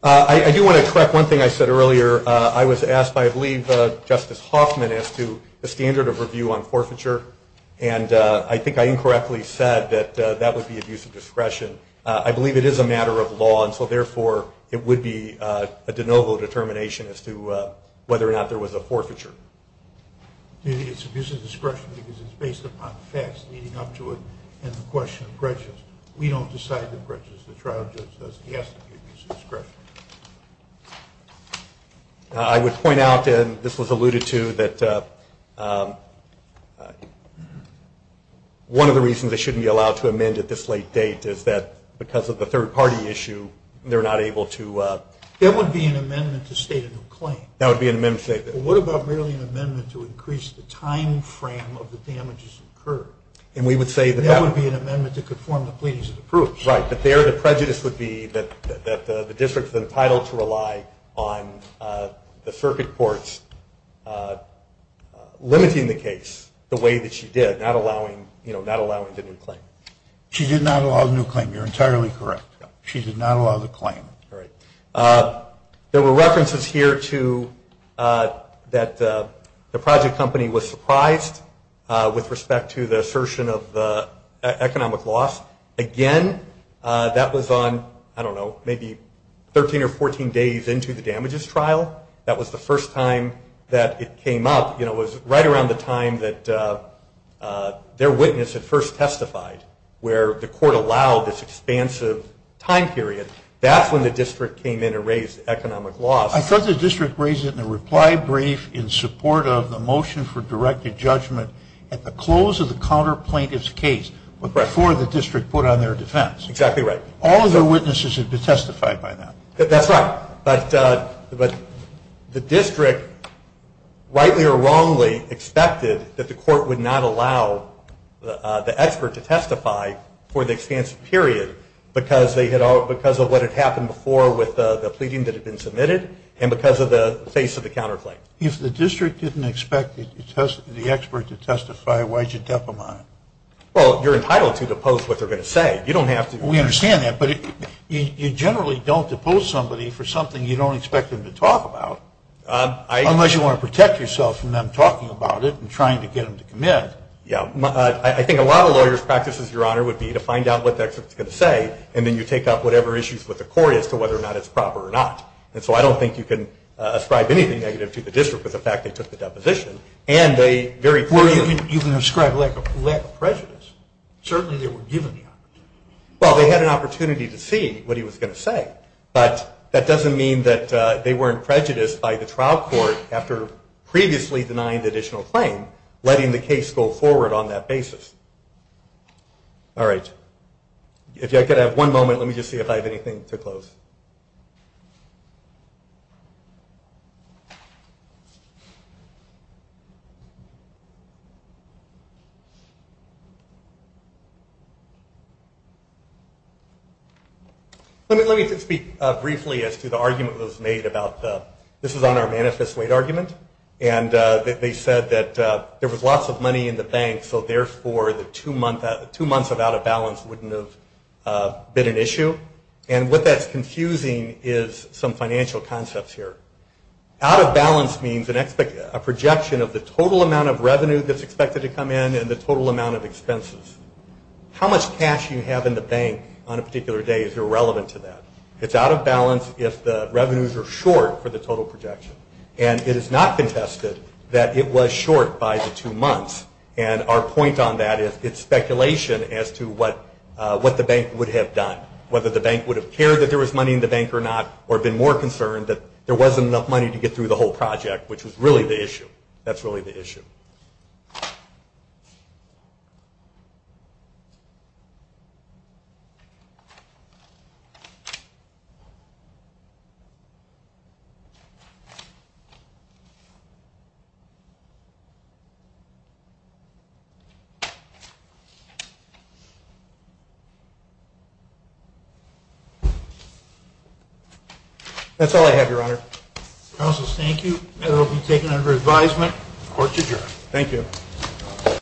I do want to correct one thing I said earlier. I was asked by I believe Justice Hoffman as to the standard of review on forfeiture. And I think I incorrectly said that that would be abuse of discretion. I believe it is a matter of law. And so, therefore, it would be a de novo determination as to whether or not there was a forfeiture. It's abuse of discretion because it's based upon facts leading up to it and the question of grudges. We don't decide the grudges. The trial judge does. He has no use of discretion. I would point out, and this was alluded to, that one of the reasons they shouldn't be allowed to amend at this late date is that because of the third-party issue, they're not able to. That would be an amendment to state a new claim. That would be an amendment to state a new claim. What about really an amendment to increase the time frame of the damages incurred? And we would say that. That would be an amendment to conform the pleadings of the proof. Right. But there the prejudice would be that the district is entitled to rely on the circuit courts limiting the case the way that she did, not allowing them to do the claim. She did not allow a new claim. You're entirely correct. She did not allow the claim. Right. There were references here to that the project company was surprised with respect to the assertion of economic loss. Again, that was on, I don't know, maybe 13 or 14 days into the damages trial. That was the first time that it came up. It was right around the time that their witness had first testified, where the court allowed this expansive time period. That's when the district came in and raised economic loss. Because the district raised it in a reply brief in support of the motion for directed judgment at the close of the counterplaintiff's case, before the district put on their defense. Exactly right. All of their witnesses have been testified by that. That's right. But the district, rightly or wrongly, expected that the court would not allow the expert to testify for the expansive period, because of what had happened before with the pleading that had been submitted, and because of the face of the counterplaint. If the district didn't expect the expert to testify, why did you declaim it? Well, you're entitled to depose what they're going to say. We understand that, but you generally don't depose somebody for something you don't expect them to talk about. Unless you want to protect yourself from them talking about it and trying to get them to commit. Yeah. I think a lot of lawyer's practices, Your Honor, would be to find out what the expert is going to say, and then you take out whatever issues with the court as to whether or not it's proper or not. And so I don't think you can ascribe anything negative to the district with the fact that it's just a deposition. You can ascribe lack of prejudice. Certainly they were given the opportunity. Well, they had an opportunity to see what he was going to say, but that doesn't mean that they weren't prejudiced by the trial court after previously denying the additional claim, letting the case go forward on that basis. All right. If I could have one moment, let me just see if I have anything to close. Let me just speak briefly as to the argument that was made about this is on our Manifest Weight argument. And they said that there was lots of money in the bank, so therefore the two months of out of balance wouldn't have been an issue. And what that's confusing is some financial concepts here. The total amount of revenue that's expected to come in and the total amount of expenses. How much cash you have in the bank on a particular day is irrelevant to that. It's out of balance if the revenues are short for the total projection. And it has not been tested that it was short by the two months. And our point on that is it's speculation as to what the bank would have done, whether the bank would have cared that there was money in the bank or not, or been more concerned that there wasn't enough money to get through the whole project, which was really the issue. That's really the issue. That's all I have, Your Honor. Counsel, thank you. That will be taken under advisement. Court is adjourned. Thank you.